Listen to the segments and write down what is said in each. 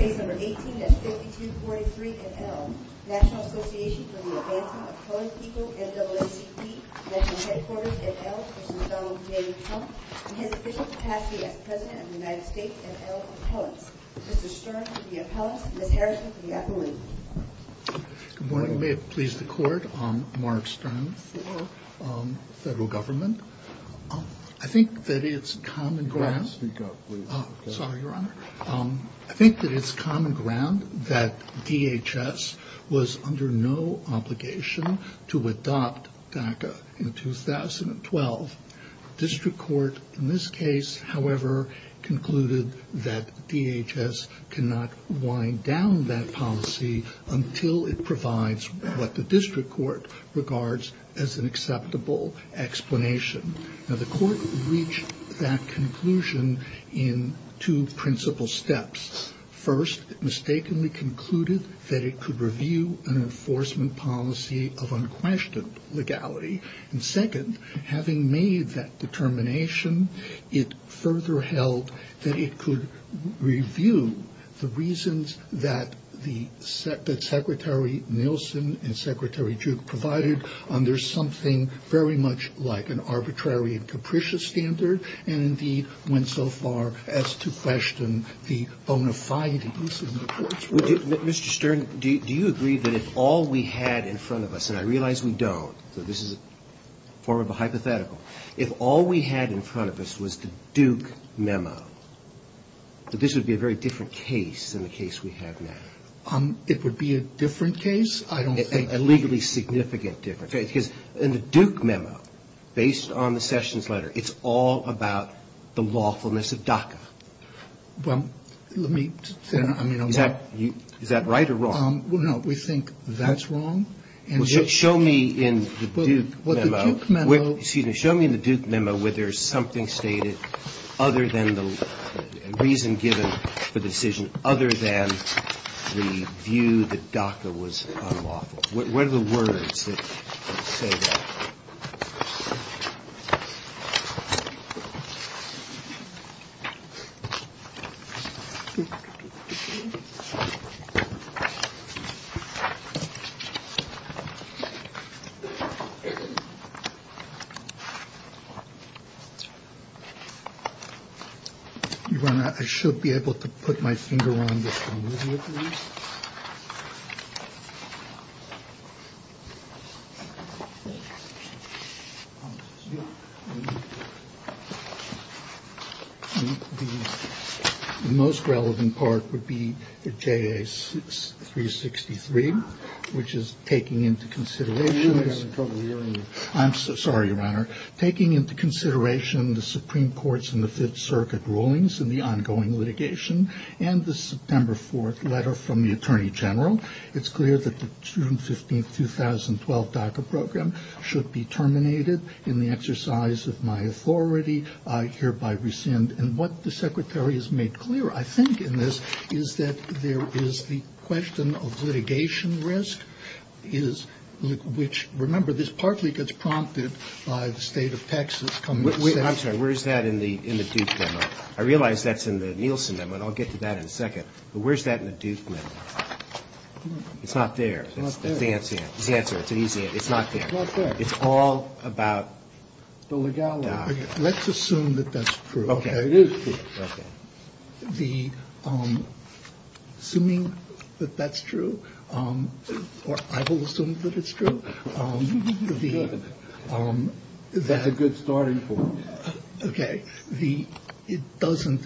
Good morning. May it please the Court, I'm Mark Stern for Federal Government. I think that it's common ground. I think that it's common ground that DHS was under no obligation to adopt DACA in 2012. District Court, in this case, however, concluded that DHS cannot wind down that policy until it provides what the District Court regards as an acceptable explanation. Now, the Court reached that conclusion in two principal steps. First, it mistakenly concluded that it could review an enforcement policy of unquestioned legality. And second, having made that determination, it further held that it could review the reasons that Secretary Nielsen and Secretary Jude provided under something very much like an arbitrary and capricious standard, and indeed went so far as to question the bona fide use of the Court's rule. Mr. Stern, do you agree that if all we had in front of us, and I realize we don't, this is a form of a hypothetical, if all we had in front of us was the Duke Memo, that this would be a very different case than the case we have now? It would be a different case? I don't think so. A legally significant difference. In the Duke Memo, based on the Sessions Letter, it's all about the lawfulness of DACA. Is that right or wrong? We think that's wrong. Show me in the Duke Memo whether there's something stated other than the reason given for the decision, other than the view that DACA was unlawful. What are the words that say that? I should be able to put my finger on this. The most relevant part would be J.A. 363, which is taking into consideration the Supreme Court's and the Fifth Circuit's rulings in the ongoing litigation, and the September 4th letter from the Attorney General. It's clear that the June 15, 2012 DACA program should be terminated in the exercise of my authority. I hereby rescind. And what the Secretary has made clear, I think, in this is that there is the question of litigation risk, which, remember, this partly gets prompted by the state of Texas. Where's that in the Duke Memo? I realize that's in the Nielsen Memo, and I'll get to that in a second. But where's that in the Duke Memo? It's not there. It's not there. It's all about the legality. Let's assume that that's true. Okay. It is true. Assuming that that's true, or I will assume that it's true, it doesn't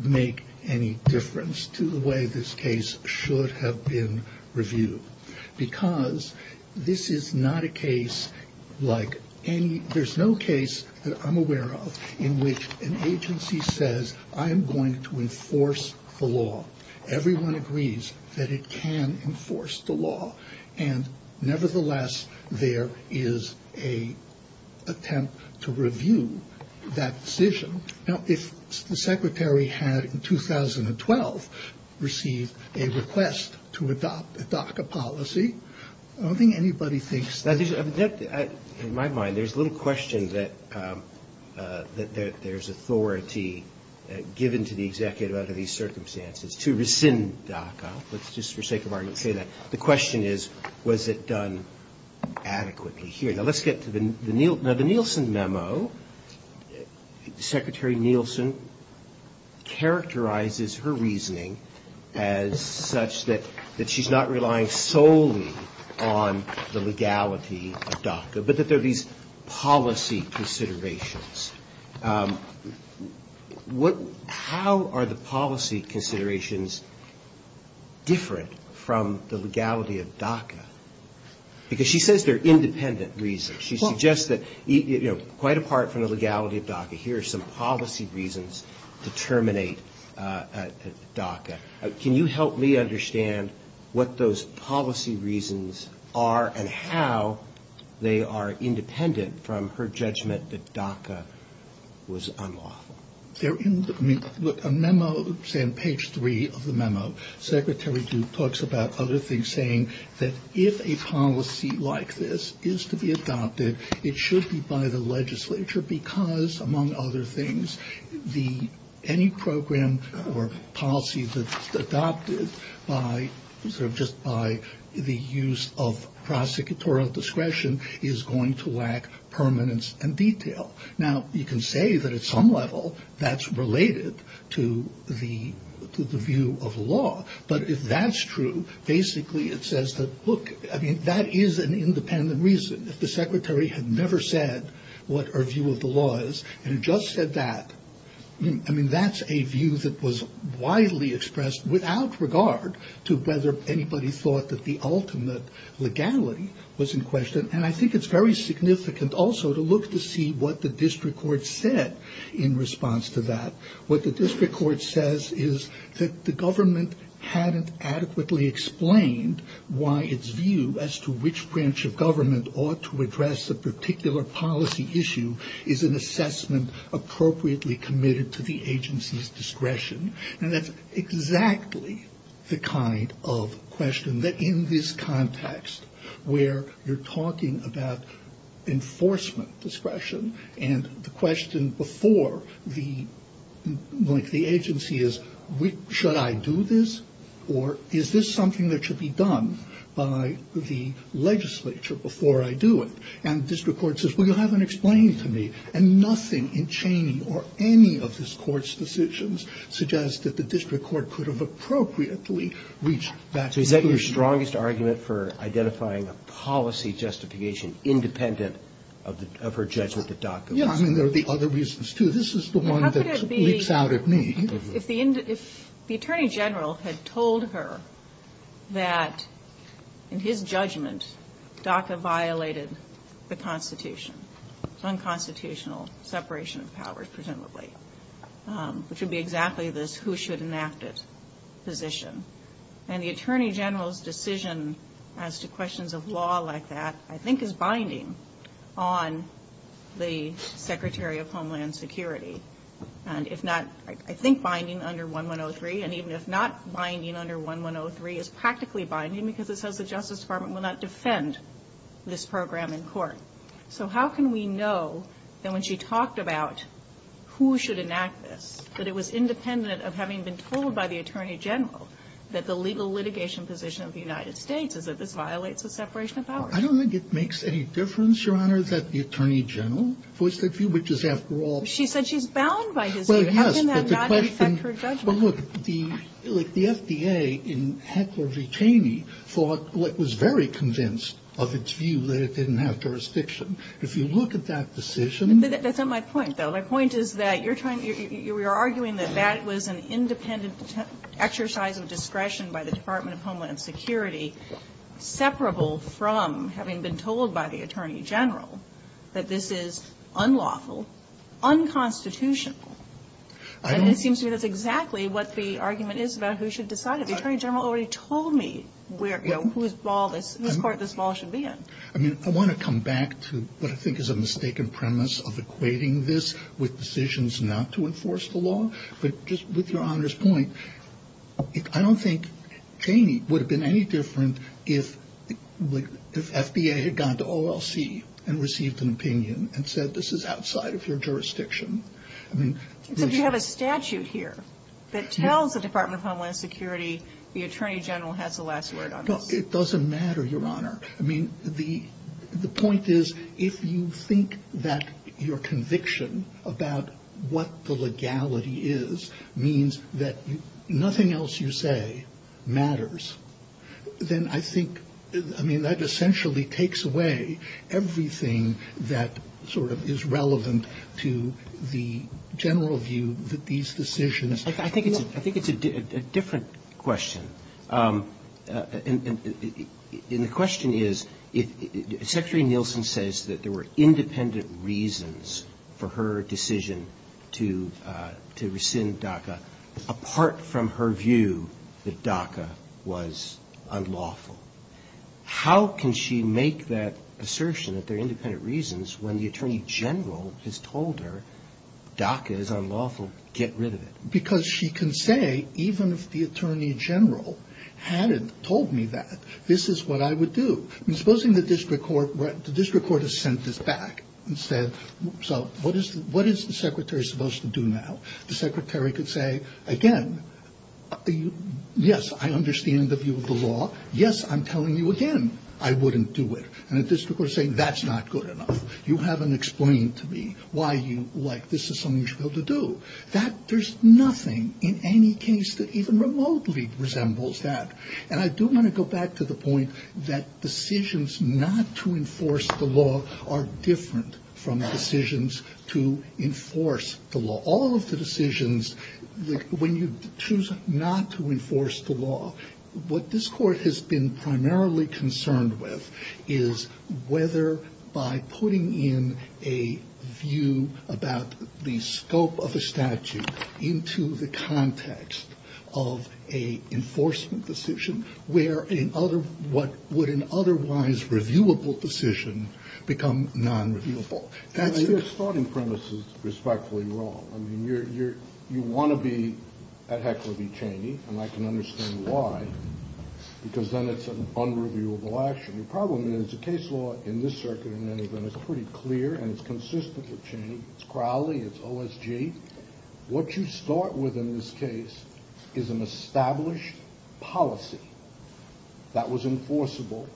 make any difference to the way this case should have been reviewed. Because this is not a case like any, there's no case that I'm aware of in which an agency says, I'm going to enforce the law. Everyone agrees that it can enforce the law. And nevertheless, there is an attempt to review that decision. Now, if the Secretary had, in 2012, received a request to adopt a DACA policy, I don't think anybody thinks that... In my mind, there's a little question that there's authority given to the executive under these circumstances to rescind DACA. Let's just, for the sake of argument, clear that. The question is, was it done adequately here? Okay, now let's get to the Nielsen Memo. Secretary Nielsen characterizes her reasoning as such that she's not relying solely on the legality of DACA, but that there are these policy considerations. How are the policy considerations different from the legality of DACA? Because she says they're independent reasons. She suggests that quite apart from the legality of DACA, here are some policy reasons to terminate DACA. Can you help me understand what those policy reasons are and how they are independent from her judgment that DACA was unlawful? Look, on page three of the memo, Secretary Duke talks about other things, saying that if a policy like this is to be adopted, it should be by the legislature, because, among other things, any program or policy that's adopted just by the use of prosecutorial discretion is going to lack permanence and detail. Now, you can say that at some level that's related to the view of law, but if that's true, basically it says that, look, that is an independent reason. If the secretary had never said what her view of the law is and just said that, I mean, that's a view that was widely expressed without regard to whether anybody thought that the ultimate legality was in question. And I think it's very significant also to look to see what the district court said in response to that. What the district court says is that the government hadn't adequately explained why its view as to which branch of government ought to address a particular policy issue is an assessment appropriately committed to the agency's discretion. And that's exactly the kind of question that in this context, where you're talking about enforcement discretion, and the question before the agency is, should I do this? Or is this something that should be done by the legislature before I do it? And the district court says, well, you haven't explained to me. And nothing in Cheney or any of this court's decisions suggests that the district court could have appropriately reached that conclusion. Is that your strongest argument for identifying a policy justification independent of her judgment that DACA was? Yeah, I mean, there are the other reasons, too. This is the one that speaks out at me. If the Attorney General had told her that in his judgment DACA violated the Constitution, unconstitutional separation of powers, presumably, which would be exactly this who should enact it position. And the Attorney General's decision as to questions of law like that, I think, is binding on the Secretary of Homeland Security. And if not, I think, binding under 1103. And even if not binding under 1103, it's practically binding because it says the Justice Department will not defend this program in court. So how can we know that when she talked about who should enact this, that it was independent of having been told by the Attorney General that the legal litigation position of the United States is that this violates the separation of powers? I don't think it makes any difference, Your Honor, that the Attorney General puts the view. She said she's bound by his view. How can that not affect her judgment? But look, the FDA in Hetford v. Cheney was very convinced of its view that it didn't have jurisdiction. If you look at that decision... That's not my point, though. My point is that you're arguing that that was an independent exercise of discretion by the Department of Homeland Security, separable from having been told by the Attorney General that this is unlawful, unconstitutional. And it seems to me that's exactly what the argument is about who should decide it. The Attorney General already told me whose court this ball should be in. I mean, I want to come back to what I think is a mistaken premise of equating this with decisions not to enforce the law. But just with Your Honor's point, I don't think Cheney would have been any different if the FDA had gone to OLC and received an opinion and said this is outside of your jurisdiction. But you have a statute here that tells the Department of Homeland Security the Attorney General has the last word on this. It doesn't matter, Your Honor. I mean, the point is if you think that your conviction about what the legality is means that nothing else you say matters, then I think, I mean, that essentially takes away everything that sort of is relevant to the general view that these decisions... I think it's a different question. And the question is, Secretary Nielsen says that there were independent reasons for her decision to rescind DACA apart from her view that DACA was unlawful. How can she make that assertion that there are independent reasons when the Attorney General has told her DACA is unlawful? Get rid of it. Because she can say, even if the Attorney General hadn't told me that, this is what I would do. Supposing the District Court has sent this back and said, so what is the Secretary supposed to do now? The Secretary could say, again, yes, I understand the view of the law. Yes, I'm telling you again I wouldn't do it. And the District Court is saying, that's not good enough. You haven't explained to me why this is something you should be able to do. There's nothing in any case that even remotely resembles that. And I do want to go back to the point that decisions not to enforce the law are different from decisions to enforce the law. All of the decisions, when you choose not to enforce the law, what this Court has been primarily concerned with is whether by putting in a view about the scope of a statute into the context of a enforcement decision, would an otherwise reviewable decision become non-reviewable. Your starting premise is respectfully wrong. You want to be at equity, Cheney, and I can understand why. Because then it's an unreviewable action. The problem is, the case law in this circuit has been pretty clear and consistent with Cheney. It's Crowley, it's OSG. What you start with in this case is an established policy that was enforceable,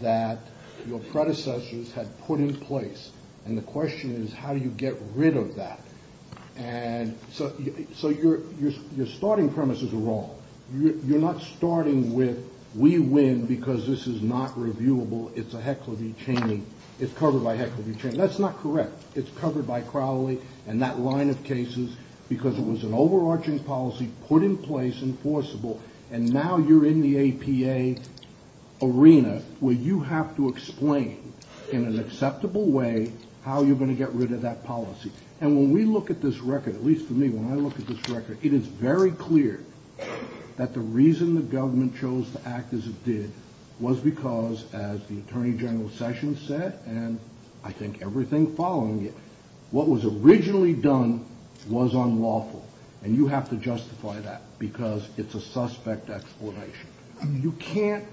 that your predecessors had put in place. And the question is how you get rid of that. And so your starting premises are wrong. You're not starting with, we win because this is not reviewable. It's a heckle of a change. It's covered by heckle of a change. That's not correct. It's covered by Crowley and that line of cases because it was an overarching policy put in place, enforceable, and now you're in the APA arena where you have to explain in an acceptable way how you're going to get rid of that policy. And when we look at this record, at least to me, when I look at this record, it is very clear that the reason the government chose to act as it did was because, as the Attorney General Sessions said, and I think everything following it, what was originally done was unlawful. And you have to justify that because it's a suspect explanation. You can't,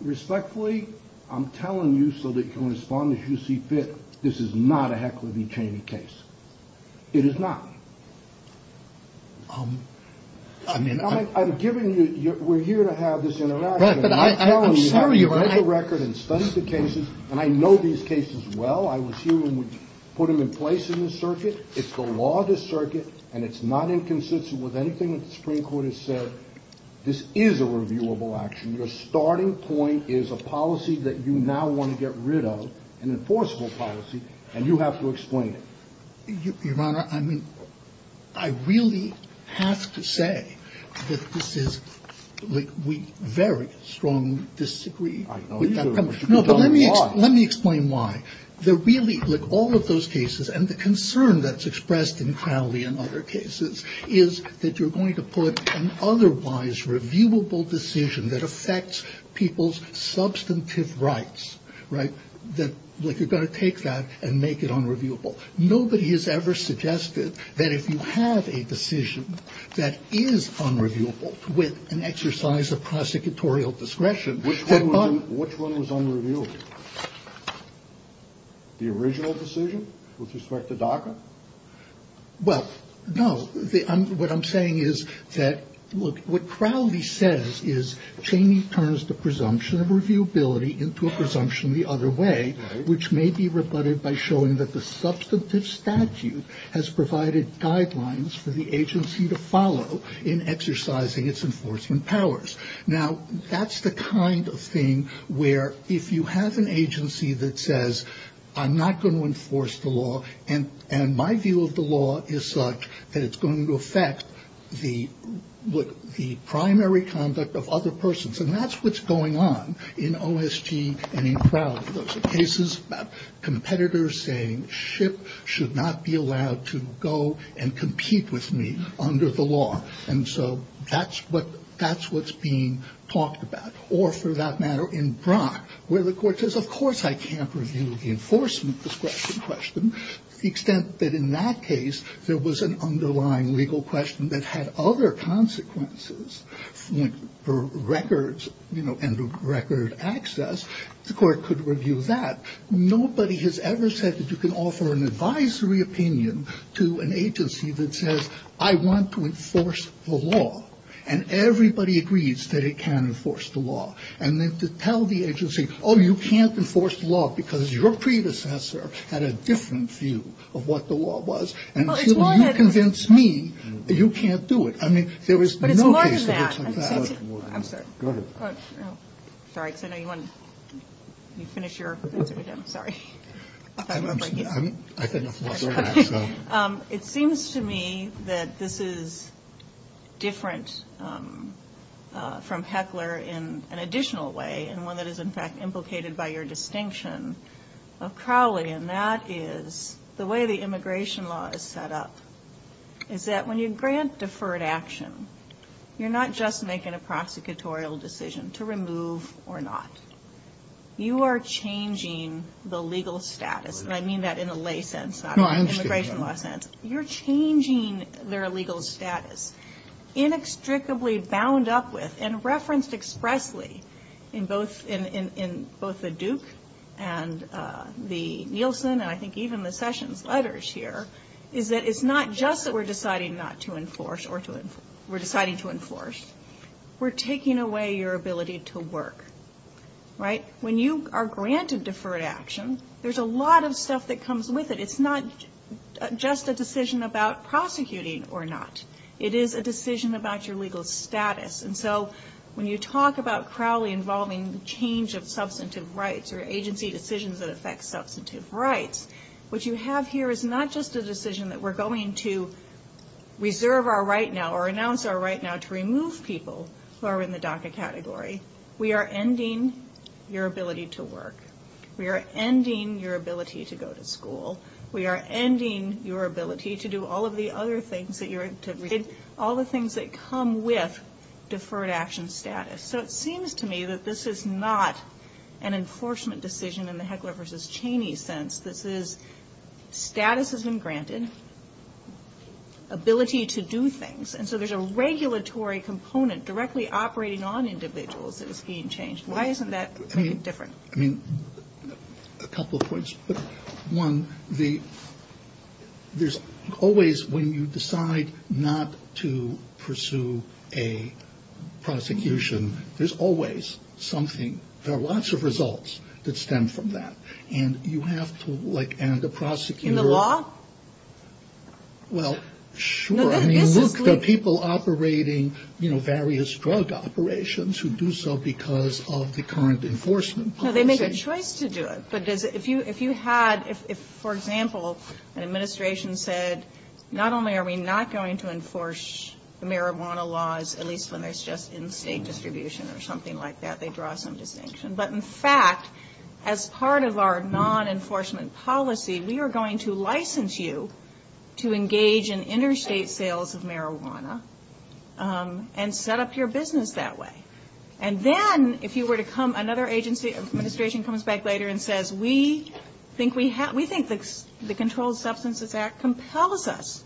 respectfully, I'm telling you so that you can respond as you see fit, this is not a heckle of a change case. It is not. I'm giving you, we're here to have this interaction. I'm telling you, write the record and study the cases, and I know these cases well. I would put them in place in the circuit. It's the law of the circuit, and it's not inconsistent with anything the Supreme Court has said. This is a reviewable action. Your starting point is a policy that you now want to get rid of, an enforceable policy, and you have to explain it. Your Honor, I mean, I really have to say that this is, we very strongly disagree. No, but let me explain why. There really, look, all of those cases, and the concern that's expressed in Crowley and other cases is that you're going to put an otherwise reviewable decision that affects people's substantive rights, right? You're going to take that and make it unreviewable. Nobody has ever suggested that if you have a decision that is unreviewable with an exercise of prosecutorial discretion. Which one was unreviewable? The original decision, which was correct to document? Well, no, what I'm saying is that what Crowley says is Cheney turns the presumption of reviewability into a presumption the other way, which may be rebutted by showing that the substantive statute has provided guidelines for the agency to follow in exercising its enforcing powers. Now, that's the kind of thing where if you have an agency that says, I'm not going to enforce the law, and my view of the law is such that it's going to affect the primary conduct of other persons, and that's what's going on in OSG and in Crowley. There are cases about competitors saying, SHIP should not be allowed to go and compete with me under the law. And so that's what's being talked about. Or for that matter, in Brock, where the court says, of course I can't review the enforcement discretion question, to the extent that in that case there was an underlying legal question that had other consequences for records, and the record of access, the court could review that. Nobody has ever said that you can offer an advisory opinion to an agency that says, I want to enforce the law. And everybody agrees that it can enforce the law. And then to tell the agency, oh, you can't enforce the law because your predecessor had a different view of what the law was, and so you convince me that you can't do it. But it's more than that. Sorry, because I know you want to finish your answer again. Sorry. It seems to me that this is different from Heckler in an additional way, and one that is in fact implicated by your distinction of Crowley, and that is the way the immigration law is set up is that when you grant deferred action, you're not just making a prosecutorial decision to remove or not. You are changing the legal status. And I mean that in a lay sense, not an immigration law sense. You're changing their legal status. Inextricably bound up with, and referenced expressly in both the Duke and the Nielsen, and I think even the Sessions letters here, is that it's not just that we're deciding not to enforce or we're deciding to enforce. We're taking away your ability to work. Right? When you are granted deferred action, there's a lot of stuff that comes with it. It's not just a decision about prosecuting or not. It is a decision about your legal status. And so when you talk about Crowley involving the change of substantive rights or agency decisions that affect substantive rights, what you have here is not just a decision that we're going to reserve our right now or announce our right now to remove people who are in the DACA category. We are ending your ability to work. We are ending your ability to go to school. We are ending your ability to do all of the other things that you're, all the things that come with deferred action status. So it seems to me that this is not an enforcement decision in the Heckler v. Cheney sense. This is status as in granted, ability to do things. And so there's a regulatory component directly operating on individuals that is being changed. Why isn't that different? I mean, a couple points. One, there's always when you decide not to pursue a prosecution, there's always something. There are lots of results that stem from that. And you have to like end the prosecution. In the law? Well, sure. I mean, look at people operating, you know, various drug operations who do so because of the current enforcement. No, they make a choice to do it. If you had, for example, an administration said, not only are we not going to enforce marijuana laws, at least when it's just in state distribution or something like that, they draw some distinction. But, in fact, as part of our non-enforcement policy, we are going to license you to engage in interstate sales of marijuana and set up your business that way. And then if you were to come, another agency or administration comes back later and says, we think the Controlled Substance Abuse Act compels us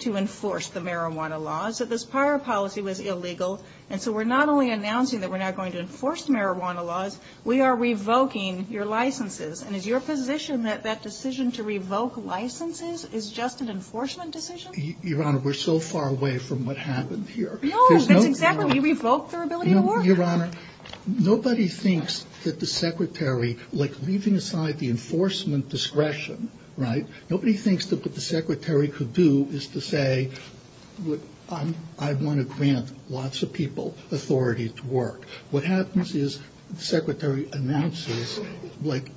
to enforce the marijuana laws. So this prior policy was illegal. And so we're not only announcing that we're not going to enforce marijuana laws, we are revoking your licenses. And is your position that that decision to revoke licenses is just an enforcement decision? Your Honor, we're so far away from what happened here. No, exactly. We revoked their ability to work. Your Honor, nobody thinks that the Secretary, like leaving aside the enforcement discretion, right, I want to grant lots of people authority to work. What happens is the Secretary announces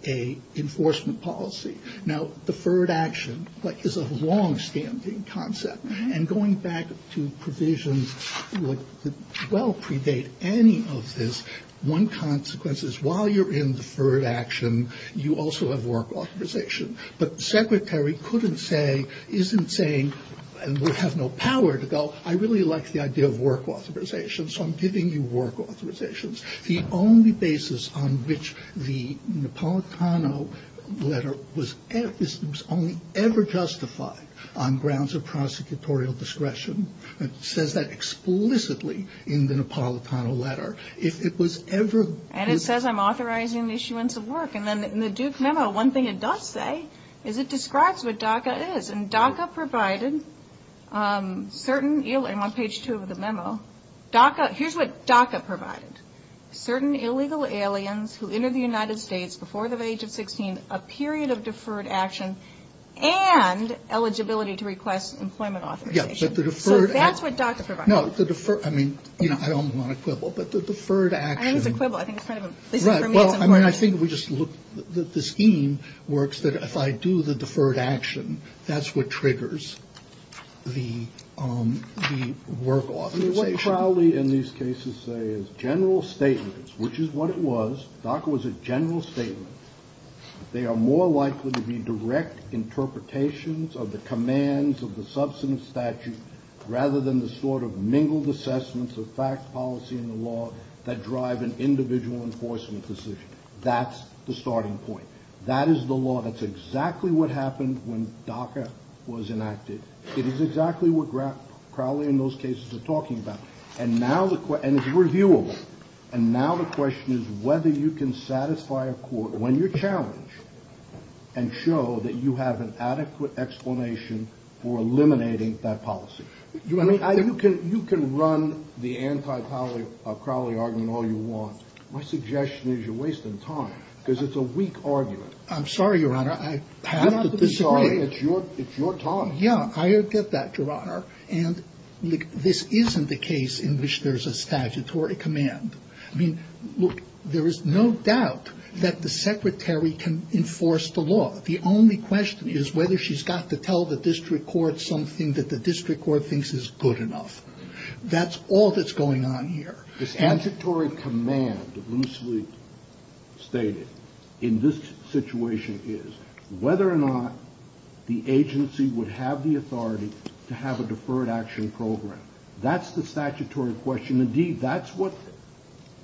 a enforcement policy. Now, deferred action is a long-standing concept. And going back to provisions that well-prevail any of this, one consequence is while you're in deferred action, you also have work authorization. But the Secretary couldn't say, isn't saying, and would have no power to go, I really like the idea of work authorization, so I'm giving you work authorizations. The only basis on which the Napolitano letter was ever justified on grounds of prosecutorial discretion, it says that explicitly in the Napolitano letter. If it was ever... And it says I'm authorizing the issuance of work. And then in the Duke memo, one thing it does say is it describes what DACA is. And DACA provided certain... And on page two of the memo, DACA... Here's what DACA provided. Certain illegal aliens who entered the United States before the age of 16, a period of deferred action, and eligibility to request employment authorization. Yes, but the deferred... So that's what DACA provides. No, the deferred... I mean, you know, I don't want to quibble, but the deferred action... I think it's a quibble. I think it's kind of a... Well, I mean, I think we just look... The scheme works that if I do the deferred action, that's what triggers the work authorization. What Crowley in these cases say is general statements, which is what it was. DACA was a general statement. They are more likely to be direct interpretations of the commands of the substance statute rather than the sort of mingled assessments of fact, policy, and the law that drive an individual enforcement decision. That's the starting point. That is the law. That's exactly what happened when DACA was enacted. It is exactly what Crowley in those cases is talking about. And now the... And it's reviewable. And now the question is whether you can satisfy a court when you're challenged and show that you have an adequate explanation for eliminating that policy. You can run the anti-Crowley argument all you want. My suggestion is you're wasting time because it's a weak argument. I'm sorry, Your Honor. I have to disagree. It's your time. Yeah, I get that, Your Honor. And this isn't a case in which there's a statutory command. I mean, look, there is no doubt that the secretary can enforce the law. But the only question is whether she's got to tell the district court something that the district court thinks is good enough. That's all that's going on here. The statutory command, as Bruce Lee stated, in this situation is whether or not the agency would have the authority to have a deferred action program. That's the statutory question. Indeed, that's what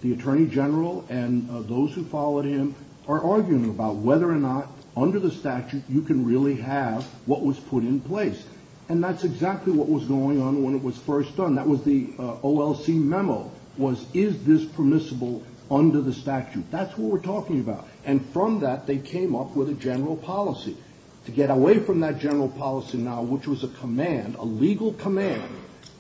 the attorney general and those who followed him are arguing about, whether or not under the statute you can really have what was put in place. And that's exactly what was going on when it was first done. That was the OLC memo was, is this permissible under the statute? That's what we're talking about. And from that, they came up with a general policy. To get away from that general policy now, which was a command, a legal command,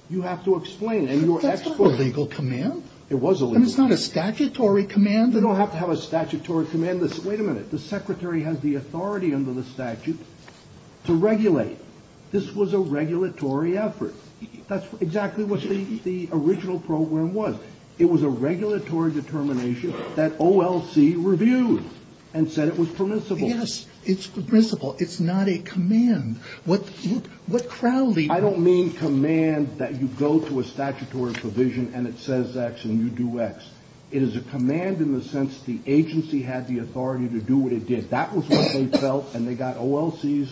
you have to explain. That's not a legal command. It was a legal command. That's not a statutory command. You don't have to have a statutory command. Wait a minute. The secretary had the authority under the statute to regulate. This was a regulatory effort. That's exactly what the original program was. It was a regulatory determination that OLC reviewed and said it was permissible. Yes, it's permissible. It's not a command. What crowd leader... I don't mean command that you go to a statutory provision and it says X and you do X. It is a command in the sense the agency had the authority to do what it did. That was what they felt, and they got OLC's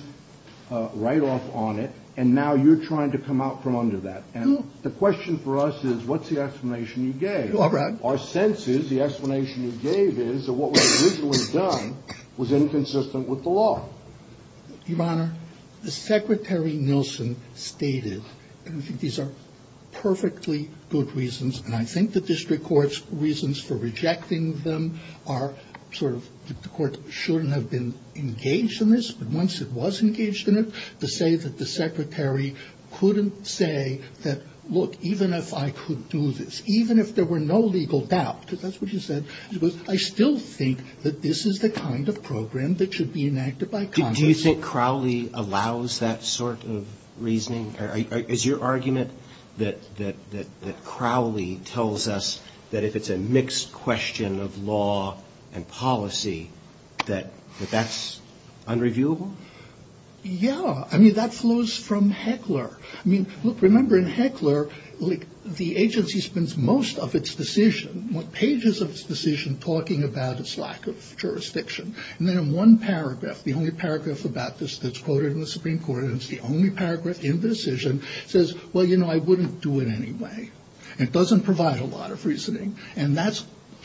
write-off on it. And now you're trying to come out from under that. And the question for us is what's the explanation you gave? Our sense is the explanation you gave is that what was originally done was inconsistent with the law. Your Honor, the Secretary Nielsen stated, and I think these are perfectly good reasons, and I think the district court's reasons for rejecting them are sort of the court shouldn't have been engaged in this, but once it was engaged in it, to say that the secretary couldn't say that, look, even if I could do this, even if there were no legal doubt, because that's what you said, I still think that this is the kind of program that should be enacted by Congress. Do you think Crowley allows that sort of reasoning? Is your argument that Crowley tells us that if it's a mixed question of law and policy that that's unreviewable? Yeah, I mean, that flows from Heckler. I mean, look, remember in Heckler, the agency spends most of its decision, pages of its decision talking about its lack of jurisdiction, and then in one paragraph, the only paragraph about this that's quoted in the Supreme Court, and it's the only paragraph in the decision, says, well, you know, I wouldn't do it anyway. It doesn't provide a lot of reasoning. And that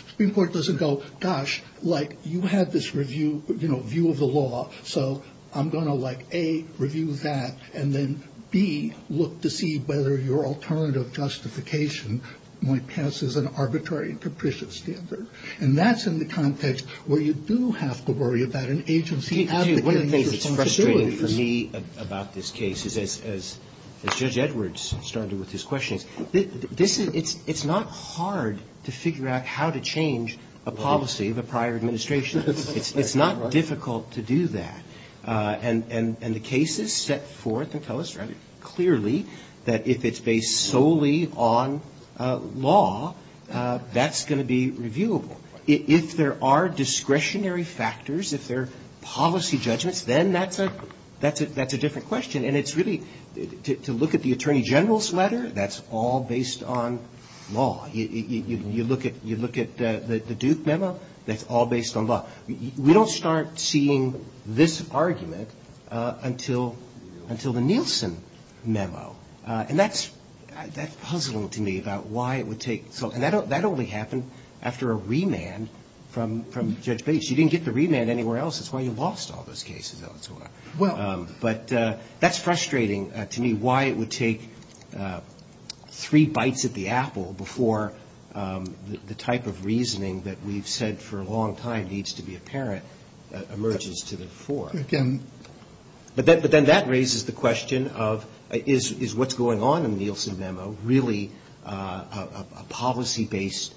Supreme Court doesn't go, gosh, like, you have this review, you know, view of the law, so I'm going to, like, A, review that, and then B, look to see whether your alternative justification, my guess is an arbitrary and capricious standard. And that's in the context where you do have to worry about an agency having to make its own decisions. What is frustrating for me about this case is, as Judge Edwards started with his questions, it's not hard to figure out how to change a policy of a prior administration. It's not difficult to do that. And the case is set forth and illustrated clearly that if it's based solely on law, that's going to be reviewable. If there are discretionary factors, if there are policy judgments, then that's a different question. And it's really, to look at the Attorney General's letter, that's all based on law. You look at the Duke memo, that's all based on law. We don't start seeing this argument until the Nielsen memo. And that's puzzling to me about why it would take so long. That only happened after a remand from Judge Bates. You didn't get the remand anywhere else. That's why you lost all those cases. But that's frustrating to me why it would take three bites at the apple before the type of reasoning that we've said for a long time needs to be apparent emerges to the fore. But then that raises the question of, is what's going on in the Nielsen memo really policy-based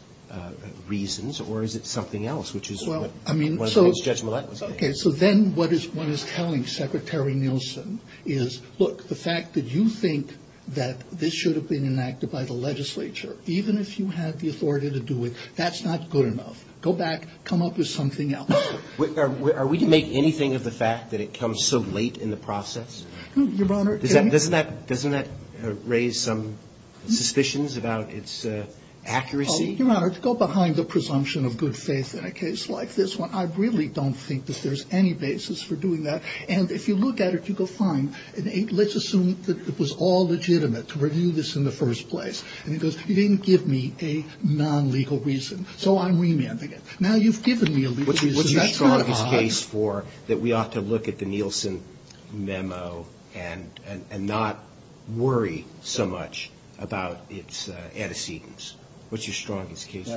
reasons, or is it something else, which is what Judge Millet was saying. So then what one is telling Secretary Nielsen is, look, the fact that you think that this should have been enacted by the legislature, even if you had the authority to do it, that's not good enough. Go back, come up with something else. Are we to make anything of the fact that it comes so late in the process? Doesn't that raise some suspicions about its accuracy? Let's go behind the presumption of good faith in a case like this one. I really don't think that there's any basis for doing that. And if you look at it, you go, fine. Let's assume that it was all legitimate to review this in the first place. And he goes, you didn't give me a non-legal reason, so I'm remanding it. Now you've given me a legal reason. What's your strongest case for that we ought to look at the Nielsen memo and not worry so much about its antecedents? What's your strongest case? Your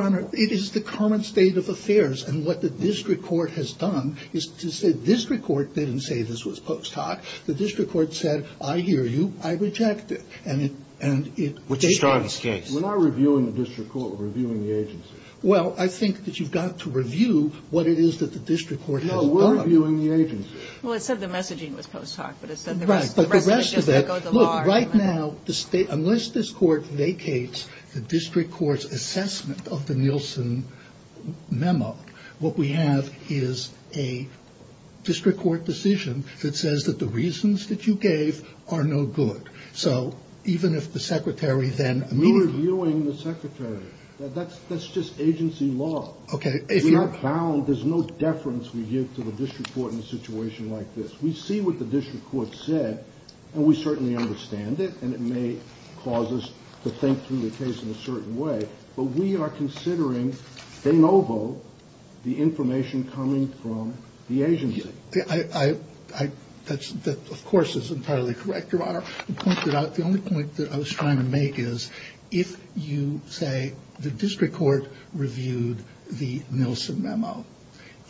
Honor, it is the common state of affairs. And what the district court has done is to say district court didn't say this was post hoc. The district court said, I hear you. I reject it. We're not reviewing the district court. We're reviewing the agency. Well, I think that you've got to review what it is that the district court has done. No, we're reviewing the agency. Well, it said the messaging was post hoc. Right. But the rest of it, look, right now, unless this court vacates the district court's assessment of the Nielsen memo, what we have is a district court decision that says that the reasons that you gave are no good. So, even if the secretary then. We're reviewing the secretary. That's just agency law. Okay. We have found there's no deference we give to the district court in a situation like this. We see what the district court said. And we certainly understand it. And it may cause us to think through the case in a certain way. But we are considering de novo the information coming from the agency. That, of course, is entirely correct, Your Honor. The only point that I was trying to make is if you say the district court reviewed the Nielsen memo.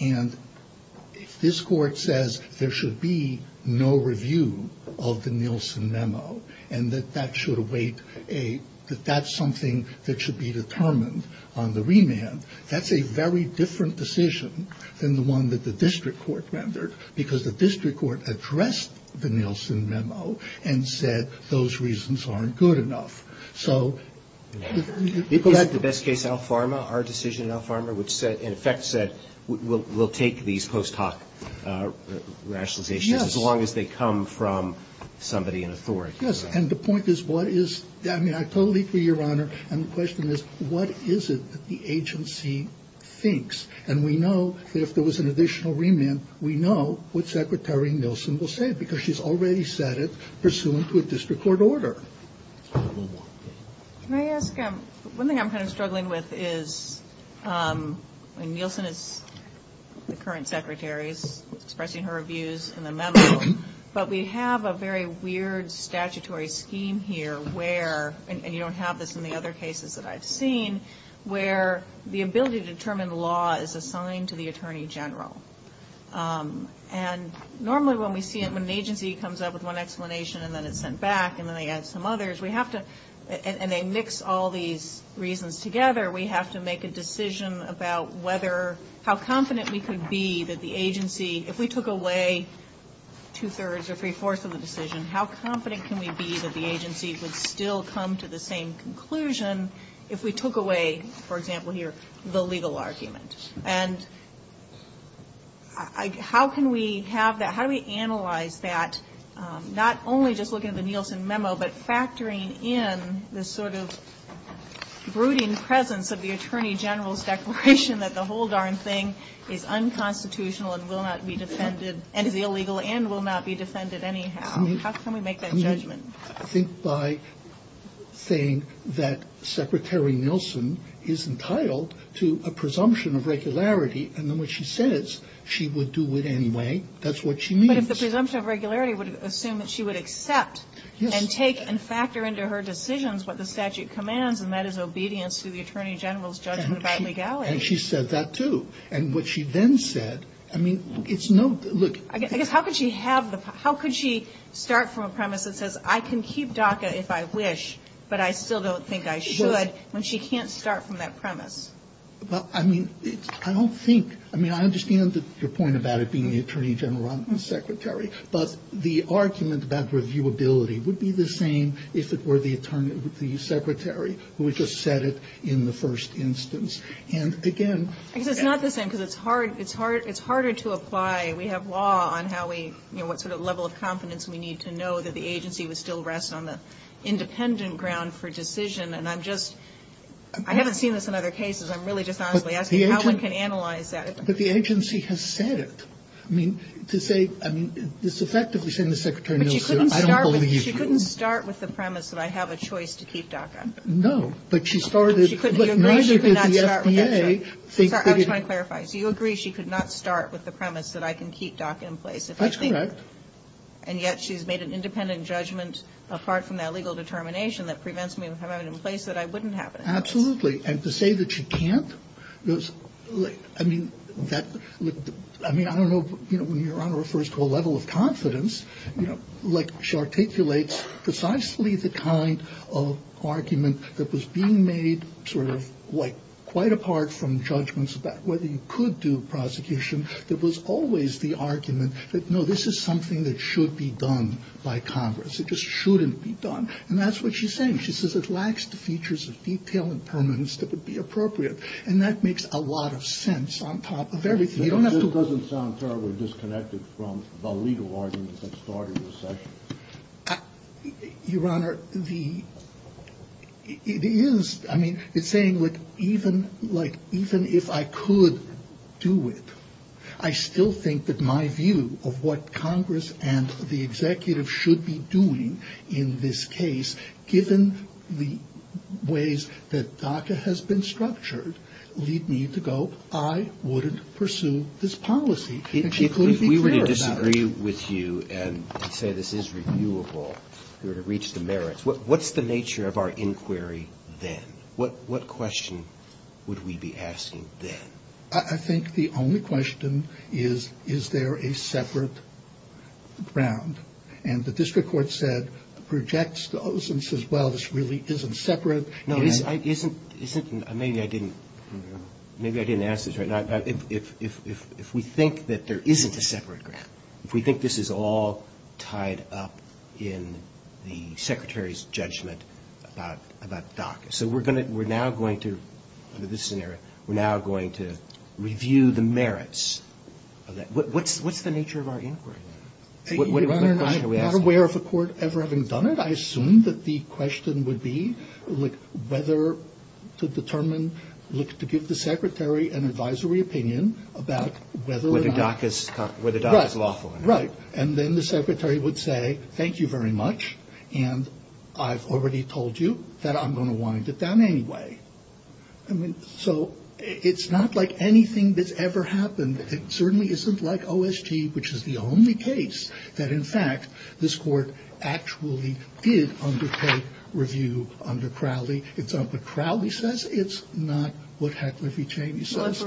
And if this court says there should be no review of the Nielsen memo and that that should await a, that that's something that should be determined on the remand, that's a very different decision than the one that the district court rendered. Because the district court addressed the Nielsen memo and said those reasons aren't good enough. People like the best case Alpharma, our decision in Alpharma, which in effect said we'll take these post hoc rationalizations as long as they come from somebody in authority. Yes. And the point is what is, I mean, I totally agree, Your Honor. And the question is what is it that the agency thinks? And we know that if there was an additional remand, we know what Secretary Nielsen will say because she's already said it pursuant to a district court order. Can I ask, one thing I'm kind of struggling with is, and Nielsen is the current Secretary, is expressing her views in the memo, but we have a very weird statutory scheme here where, and you don't have this in the other cases that I've seen, where the ability to determine the law is assigned to the Attorney General. And normally when we see an agency comes up with one explanation and then it's sent back and then they add some others, we have to, and they mix all these reasons together, we have to make a decision about whether, how confident we could be that the agency, if we took away two-thirds or three-fourths of the decision, how confident can we be that the agency would still come to the same conclusion if we took away, for example here, the legal argument? And how can we have that, how do we analyze that, not only just looking at the Nielsen memo, but factoring in the sort of brooding presence of the Attorney General's declaration that the whole darn thing is unconstitutional and will not be defended, and is illegal, and will not be defended anyhow. How can we make that judgment? I think by saying that Secretary Nielsen is entitled to a presumption of regularity, and then when she says she would do it anyway, that's what she means. But if the presumption of regularity would assume that she would accept and take and factor into her decisions what the statute commands, and that is obedience to the Attorney General's judgment about legality. And she said that too. And what she then said, I mean, it's no, look. I guess how could she start from a premise that says I can keep DACA if I wish, but I still don't think I should, when she can't start from that premise? Well, I mean, I don't think, I mean, I understand your point about it being the Attorney General and Secretary, but the argument about reviewability would be the same if it were the Secretary who had just said it in the first instance. I guess it's not the same, because it's harder to apply. We have law on how we, you know, what sort of level of confidence we need to know that the agency would still rest on the independent ground for decision. And I'm just, I haven't seen this in other cases. I'm really just honestly asking how one can analyze that. But the agency has said it. I mean, to say, I mean, it's the fact that you're saying that Secretary Nielsen, I don't believe you. But she couldn't start with the premise that I have a choice to keep DACA. No, but she started, but neither did the FDA. I'm trying to clarify. Do you agree she could not start with the premise that I can keep DACA in place? That's correct. And yet she's made an independent judgment apart from that legal determination that prevents me from having it in place that I wouldn't have it in place. Absolutely. And to say that she can't, I mean, I don't know, you know, when your Honor refers to a level of confidence, you know, like she articulates precisely the kind of argument that was being made sort of like quite apart from judgments about whether you could do prosecution. There was always the argument that, no, this is something that should be done by Congress. It just shouldn't be done. And that's what she's saying. She says it lacks the features of detail and permanence that would be appropriate. And that makes a lot of sense on top of everything. It just doesn't sound terribly disconnected from the legal arguments that started the session. Your Honor, it is, I mean, it's saying like even if I could do it, I still think that my view of what Congress and the executive should be doing in this case, given the ways that DACA has been structured, we need to go, I wouldn't pursue this policy. If we were to disagree with you and say this is reviewable, we're to reach the merits, what's the nature of our inquiry then? What question would we be asking then? I think the only question is, is there a separate ground? And the district court said, projects those and says, well, this really isn't separate. Maybe I didn't ask this right. If we think that there isn't a separate ground, if we think this is all tied up in the secretary's judgment about DACA, we're now going to review the merits. What's the nature of our inquiry? Your Honor, I'm not aware of a court ever having done it. I assume that the question would be whether to determine, to give the secretary an advisory opinion about whether DACA is lawful. Right. And then the secretary would say, thank you very much. And I've already told you that I'm going to wind it down anyway. So it's not like anything that's ever happened. It certainly isn't like OST, which is the only case that, in fact, this court actually did undertake review under Crowley. It's not what Crowley says. It's not what Heckler v. Cheney says.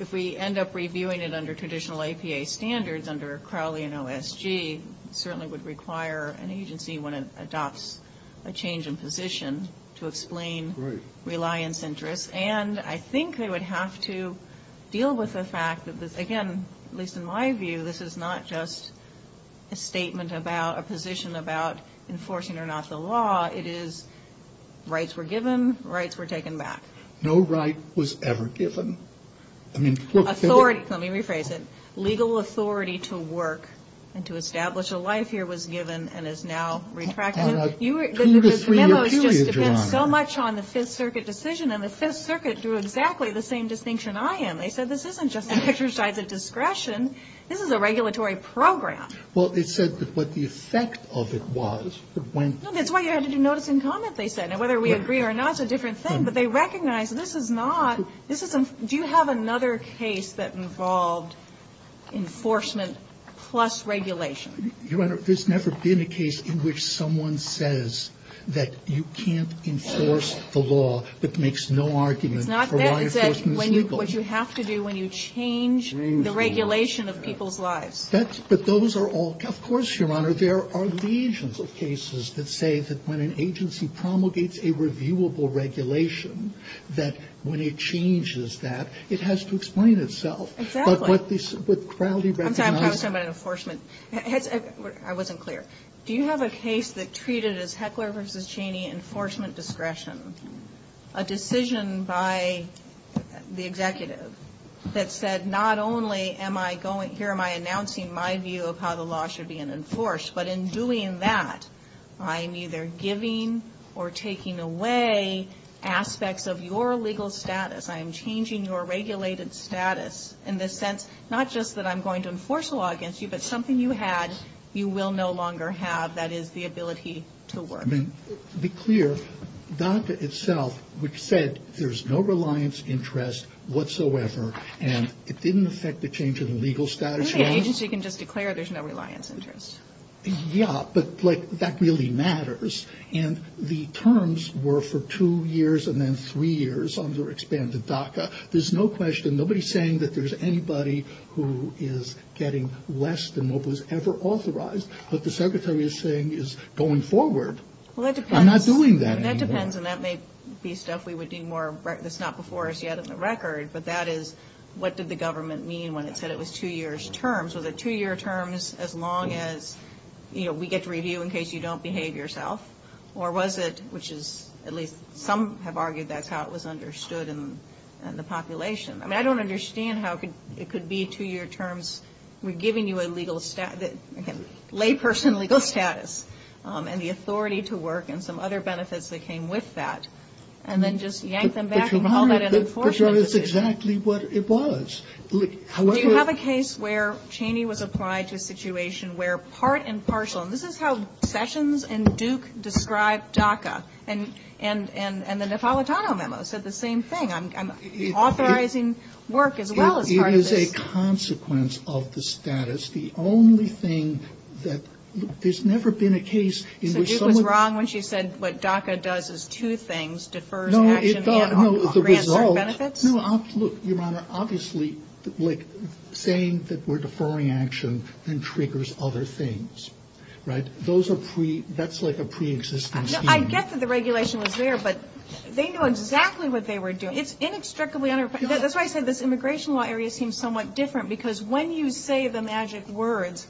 If we end up reviewing it under traditional APA standards under Crowley and OSG, it certainly would require an agency, when it adopts a change in position, to explain reliance interests. And I think we would have to deal with the fact that this, again, at least in my view, this is not just a statement about a position about enforcing or not the law. It is rights were given, rights were taken back. No right was ever given. Authority. Let me rephrase it. Legal authority to work and to establish a life here was given and is now retracted. You were so much on the Fifth Circuit decision, and the Fifth Circuit drew exactly the same distinction I am. They said this isn't just an exercise of discretion. This is a regulatory program. Well, they said what the effect of it was. That's why you had to do notice and comment, they said. Whether we agree or not is a different thing, but they recognize this is not, this isn't, do you have another case that involved enforcement plus regulation? Your Honor, there's never been a case in which someone says that you can't enforce the law, that makes no argument for why you're forcing people. Not that, what you have to do when you change the regulation of people's lives. That's, but those are all, of course, Your Honor, there are legions of cases that say that when an agency promulgates a reviewable regulation, that when it changes that, it has to explain itself. Exactly. But what Crowley recognizes. I'm sorry, I was talking about enforcement. I wasn't clear. Do you have a case that treated as Heckler v. Cheney enforcement discretion, a decision by the executive that said not only am I going, here am I announcing my view of how the law should be enforced, but in doing that, I'm either giving or taking away aspects of your legal status. I'm changing your regulated status in the sense, not just that I'm going to enforce the law against you, but something you had, you will no longer have, that is the ability to work. Be clear, DACA itself, which said there's no reliance interest whatsoever, and it didn't affect the change of the legal status? I think an agency can just declare there's no reliance interest. Yeah, but that really matters. And the terms were for two years and then three years under expanded DACA. There's no question, nobody's saying that there's anybody who is getting less than what was ever authorized, but the secretary is saying is going forward. I'm not doing that anymore. That depends, and that may be stuff we would do more, that's not before us yet on the record, but that is what did the government mean when it said it was two years term. So the two-year term is as long as we get to review in case you don't behave yourself, or was it, which is at least some have argued that's how it was understood in the population. I don't understand how it could be two-year terms giving you a layperson legal status and the authority to work and some other benefits that came with that, and then just yank them back and call that an abortion. That's exactly what it was. Do you have a case where Cheney was applied to a situation where part and partial, and this is how Sessions and Duke described DACA, and the Napolitano memo said the same thing, authorizing work as well as part and partial. It is a consequence of the status. The only thing that there's never been a case in which someone... No, it's about the results. No, Your Honor, obviously saying that we're deferring action then triggers other things, right? That's like a pre-existing scheme. I get that the regulation was there, but they know exactly what they were doing. It's inextricably intertwined. That's why I said this immigration law area seems somewhat different because when you say the magic words,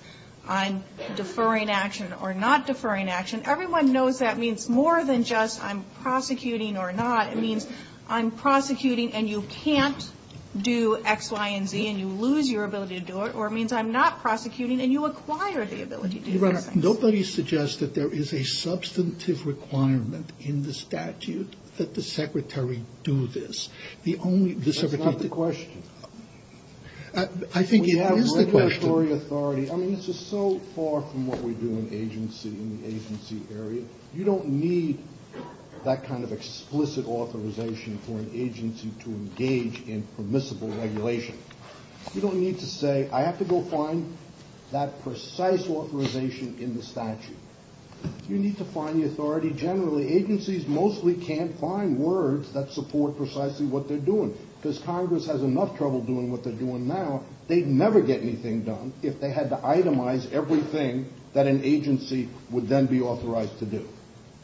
I'm deferring action or not deferring action, and everyone knows that means more than just I'm prosecuting or not. It means I'm prosecuting and you can't do X, Y, and Z, and you lose your ability to do it, or it means I'm not prosecuting and you acquire the ability to do it. Your Honor, nobody suggests that there is a substantive requirement in the statute that the secretary do this. That's not the question. I think it is the question. I mean, this is so far from what we do in the agency area. You don't need that kind of explicit authorization for an agency to engage in permissible regulation. You don't need to say, I have to go find that precise authorization in the statute. You need to find the authority generally. Agencies mostly can't find words that support precisely what they're doing because Congress has enough trouble doing what they're doing now. They'd never get anything done if they had to itemize everything that an agency would then be authorized to do.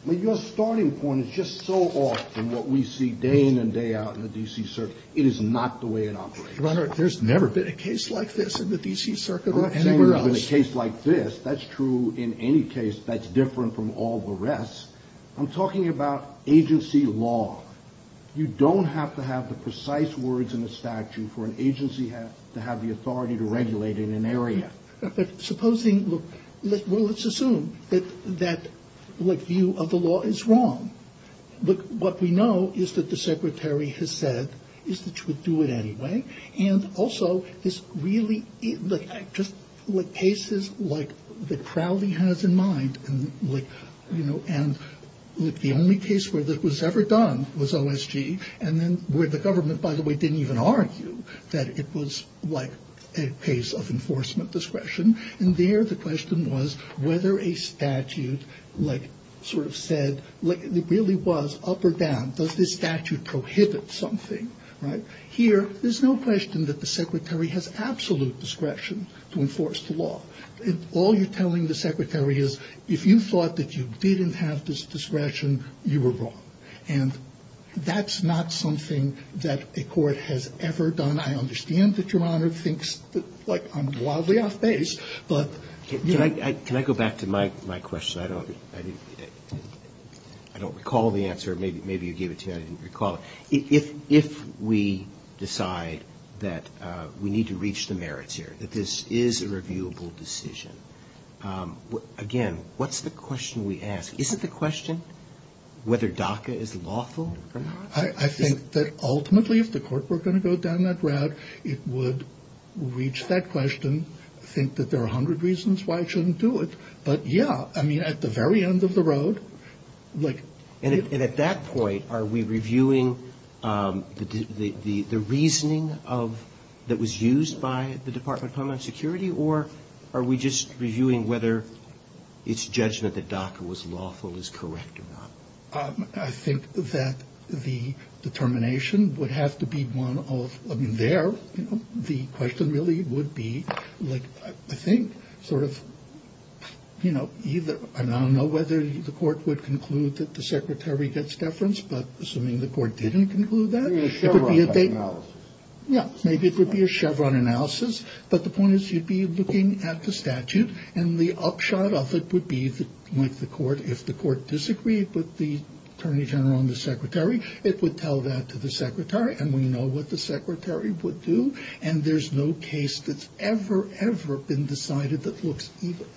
Your starting point is just so off from what we see day in and day out in the D.C. Circuit. It is not the way it operates. Your Honor, there's never been a case like this in the D.C. Circuit or anywhere else. There's never been a case like this. That's true in any case. That's different from all the rest. I'm talking about agency law. You don't have to have the precise words in the statute for an agency to have the authority to regulate in an area. Supposing, well, let's assume that the view of the law is wrong. What we know is that the Secretary has said that you should do it anyway. And also, just cases like the Crowley has in mind, and the only case where this was ever done was OSG, and then where the government, by the way, didn't even argue that it was a case of enforcement discretion. And there the question was whether a statute really was up or down. Does this statute prohibit something? Here, there's no question that the Secretary has absolute discretion to enforce the law. All you're telling the Secretary is, if you thought that you didn't have this discretion, you were wrong. And that's not something that a court has ever done. I understand that Your Honor thinks that I'm wildly outpaced. Can I go back to my question? I don't recall the answer. Maybe you gave it to me. I didn't recall it. If we decide that we need to reach the merits here, that this is a reviewable decision, again, what's the question we ask? Isn't the question whether DACA is lawful? I think that ultimately, if the court were going to go down that route, it would reach that question, think that there are a hundred reasons why it shouldn't do it. But, yeah, I mean, at the very end of the road. And at that point, are we reviewing the reasoning that was used by the Department of Homeland Security, or are we just reviewing whether its judgment that DACA was lawful is correct or not? I think that the determination would have to be one of, I mean, there, the question really would be, like, I think, sort of, you know, I don't know whether the court would conclude that the secretary gets deference, but assuming the court didn't conclude that, maybe it would be a Chevron analysis. But the point is you'd be looking at the statute, and the upshot of it would be, like, if the court disagreed with the attorney general and the secretary, it would tell that to the secretary, and we know what the secretary would do. And there's no case that's ever, ever been decided that looks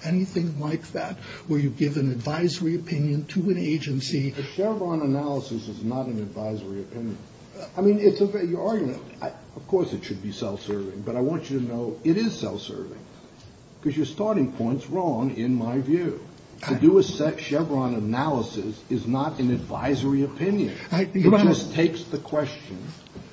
anything like that, where you give an advisory opinion to an agency. The Chevron analysis is not an advisory opinion. I mean, it's a very good argument. Of course it should be self-serving, but I want you to know it is self-serving, because you're starting points wrong, in my view. To do a Chevron analysis is not an advisory opinion. It just takes the question,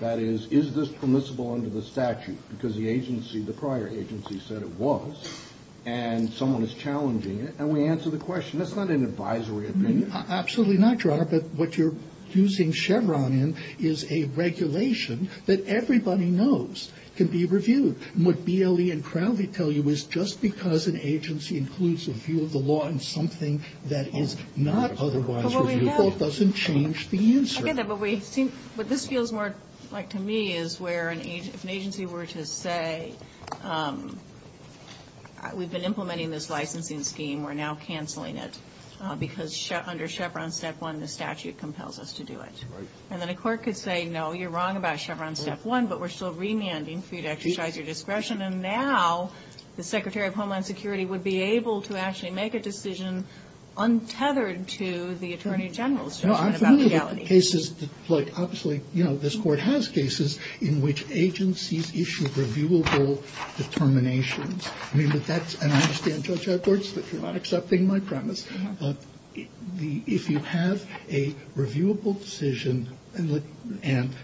that is, is this permissible under the statute, because the agency, the prior agency, said it was, and someone is challenging it, and we answer the question. That's not an advisory opinion. Absolutely not, Your Honor, but what you're using Chevron in is a regulation that everybody knows can be reviewed. And what BLE and Crowley tell you is just because an agency includes a view of the law in something that is not otherwise reviewable doesn't change the answer. What this feels more like to me is where an agency were to say, we've been implementing this licensing scheme, we're now canceling it, because under Chevron Step 1, the statute compels us to do it. And then a court could say, no, you're wrong about Chevron Step 1, but we're still remanding for you to exercise your discretion. And now the Secretary of Homeland Security would be able to actually make a decision untethered to the Attorney General's decision about reality. Well, I'm familiar with cases, like, obviously, you know, this Court has cases in which agencies issue reviewable determinations. I mean, that's, and I understand, Judge Edwards, that you're not accepting my premise, but if you have a reviewable decision and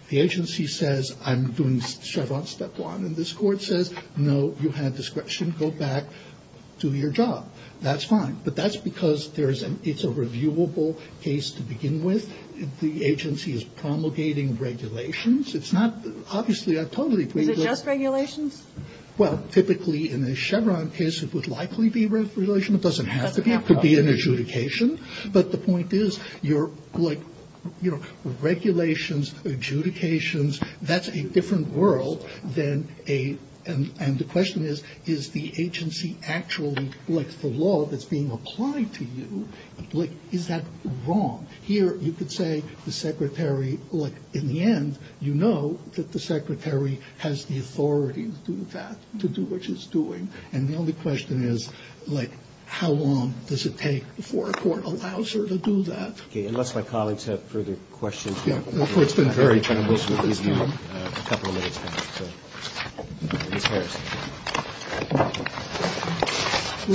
the agency says, I'm doing Chevron Step 1, and this Court says, no, you have discretion, go back, do your job, that's fine. But that's because it's a reviewable case to begin with. The agency is promulgating regulations. It's not, obviously, I totally agree. Is it just regulations? Well, typically, in a Chevron case, it would likely be regulations. It doesn't have to be. It could be an adjudication. But the point is, you're, like, you know, regulations, adjudications, that's a different world than a, and the question is, is the agency actually, like, the law that's being applied to you, like, is that wrong? Here, you could say the secretary, like, in the end, you know that the secretary has the authority to do that, to do what she's doing. And the only question is, like, how long does it take before a court allows her to do that? Okay, unless my colleagues have further questions. Yeah, it's been very tranquil, so please give me a couple of minutes. Thank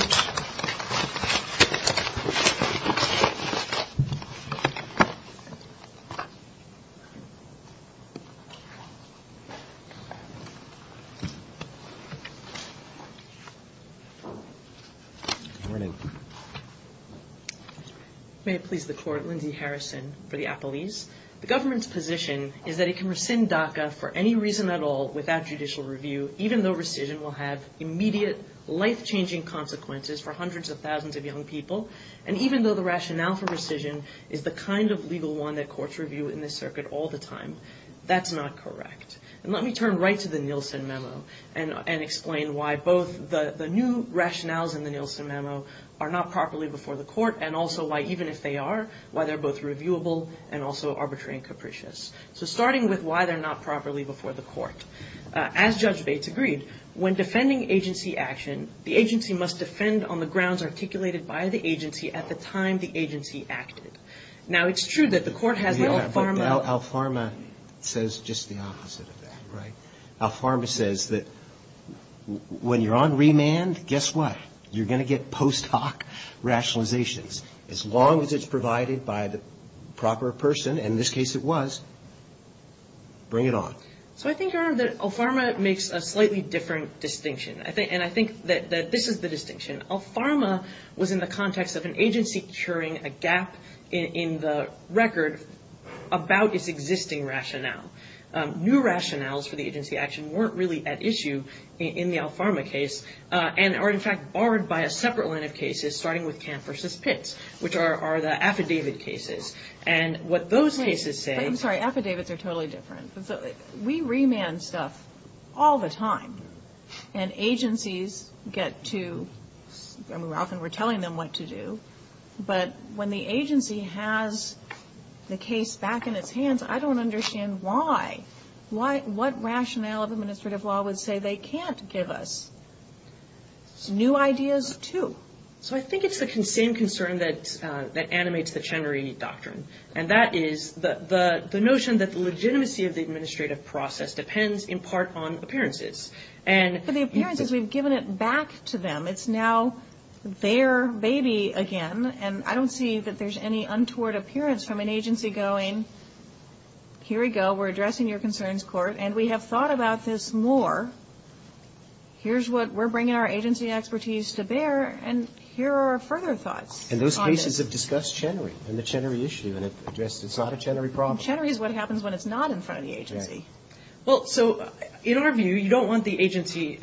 you. May it please the Court, Lindy Harrison for the appellees. The government's position is that it can rescind DACA for any reason at all without judicial review, even though rescission will have immediate life-changing consequences for hundreds of thousands of young people, and even though the rationale for rescission is the kind of legal one that courts review in this circuit all the time. That's not correct. Let me turn right to the Nielsen memo and explain why both the new rationales in the Nielsen memo are not properly before the court, and also why, even if they are, why they're both reviewable and also arbitrary and capricious. So, starting with why they're not properly before the court. As Judge Bates agreed, when defending agency action, the agency must defend on the grounds articulated by the agency at the time the agency acted. Now, it's true that the court has the ALFARMA. ALFARMA says just the opposite of that, right? ALFARMA says that when you're on remand, guess what? You're going to get post hoc rationalizations. As long as it's provided by the proper person, and in this case it was, bring it on. So, I think, Aaron, that ALFARMA makes a slightly different distinction, and I think that this is the distinction. ALFARMA was in the context of an agency curing a gap in the record about its existing rationale. New rationales for the agency action weren't really at issue in the ALFARMA case and are, in fact, borrowed by a separate line of cases, starting with Kemp v. Pitts, which are the affidavit cases, and what those cases say- I'm sorry, affidavits are totally different. We remand stuff all the time, and agencies get to, and we're often telling them what to do, but when the agency has the case back in its hands, I don't understand why. What rationale of administrative law would say they can't give us new ideas, too? So, I think it's the same concern that animates the Chenery Doctrine, and that is the notion that the legitimacy of the administrative process depends in part on appearances. But the appearances, we've given it back to them. It's now their baby again, and I don't see that there's any untoward appearance from an agency going, here we go, we're addressing your concerns, court, and we have thought about this more. Here's what we're bringing our agency expertise to bear, and here are our further thoughts. And those cases have discussed Chenery and the Chenery issue, and it's not a Chenery problem. And Chenery is what happens when it's not in front of the agency. Well, so, in our view, you don't want the agency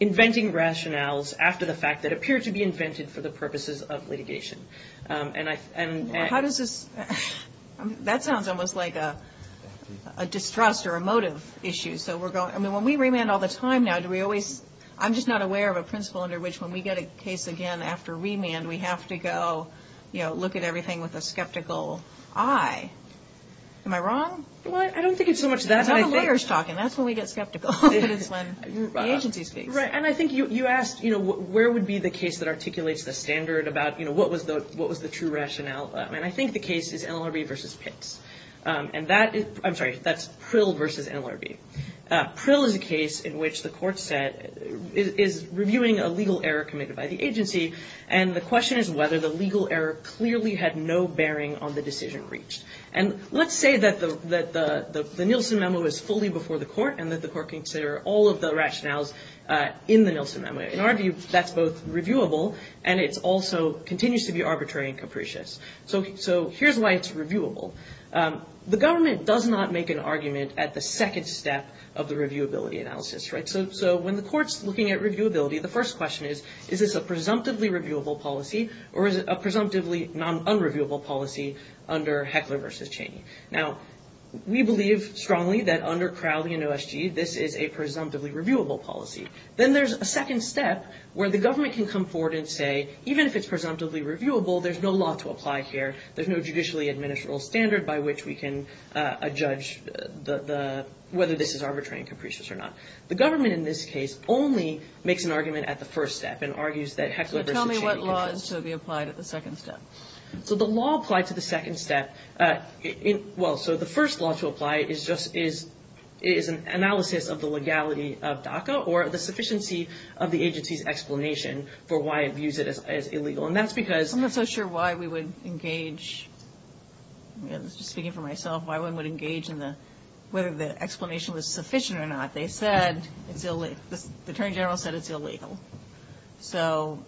inventing rationales after the fact that appear to be invented for the purposes of litigation. How does this-that sounds almost like a distrust or a motive issue. So, when we remand all the time now, do we always-I'm just not aware of a principle under which when we get a case again after remand, we have to go, you know, look at everything with a skeptical eye. Am I wrong? Well, I don't think it's so much that. I'm a lawyer's talking. That's when we get skeptical. Right, and I think you asked, you know, where would be the case that articulates the standard about, you know, what was the true rationale? And I think the case is NLRB versus Pitts. And that is-I'm sorry, that's Prill versus NLRB. Prill is a case in which the court said-is reviewing a legal error committed by the agency, and the question is whether the legal error clearly had no bearing on the decision reached. And let's say that the Nielsen memo is fully before the court and that the court can consider all of the rationales in the Nielsen memo. In our view, that's both reviewable and it also continues to be arbitrary and capricious. So, here's why it's reviewable. The government does not make an argument at the second step of the reviewability analysis, right? So, when the court's looking at reviewability, the first question is, is this a presumptively reviewable policy or is it a presumptively unreviewable policy under Heckler versus Chaney? Now, we believe strongly that under Crowley and OSG, this is a presumptively reviewable policy. Then there's a second step where the government can come forward and say, even if it's presumptively reviewable, there's no law to apply here. There's no judicially administrable standard by which we can judge whether this is arbitrary and capricious or not. The government in this case only makes an argument at the first step and argues that Heckler versus Chaney- So, tell me what laws should be applied at the second step. So, the law applied to the second step- Well, so the first law to apply is just- is an analysis of the legality of DACA or the sufficiency of the agency's explanation for why it views it as illegal. And that's because- I'm not so sure why we would engage- I was just thinking for myself why one would engage in the- whether the explanation was sufficient or not. They said it's illegal. The Attorney General said it's illegal. So,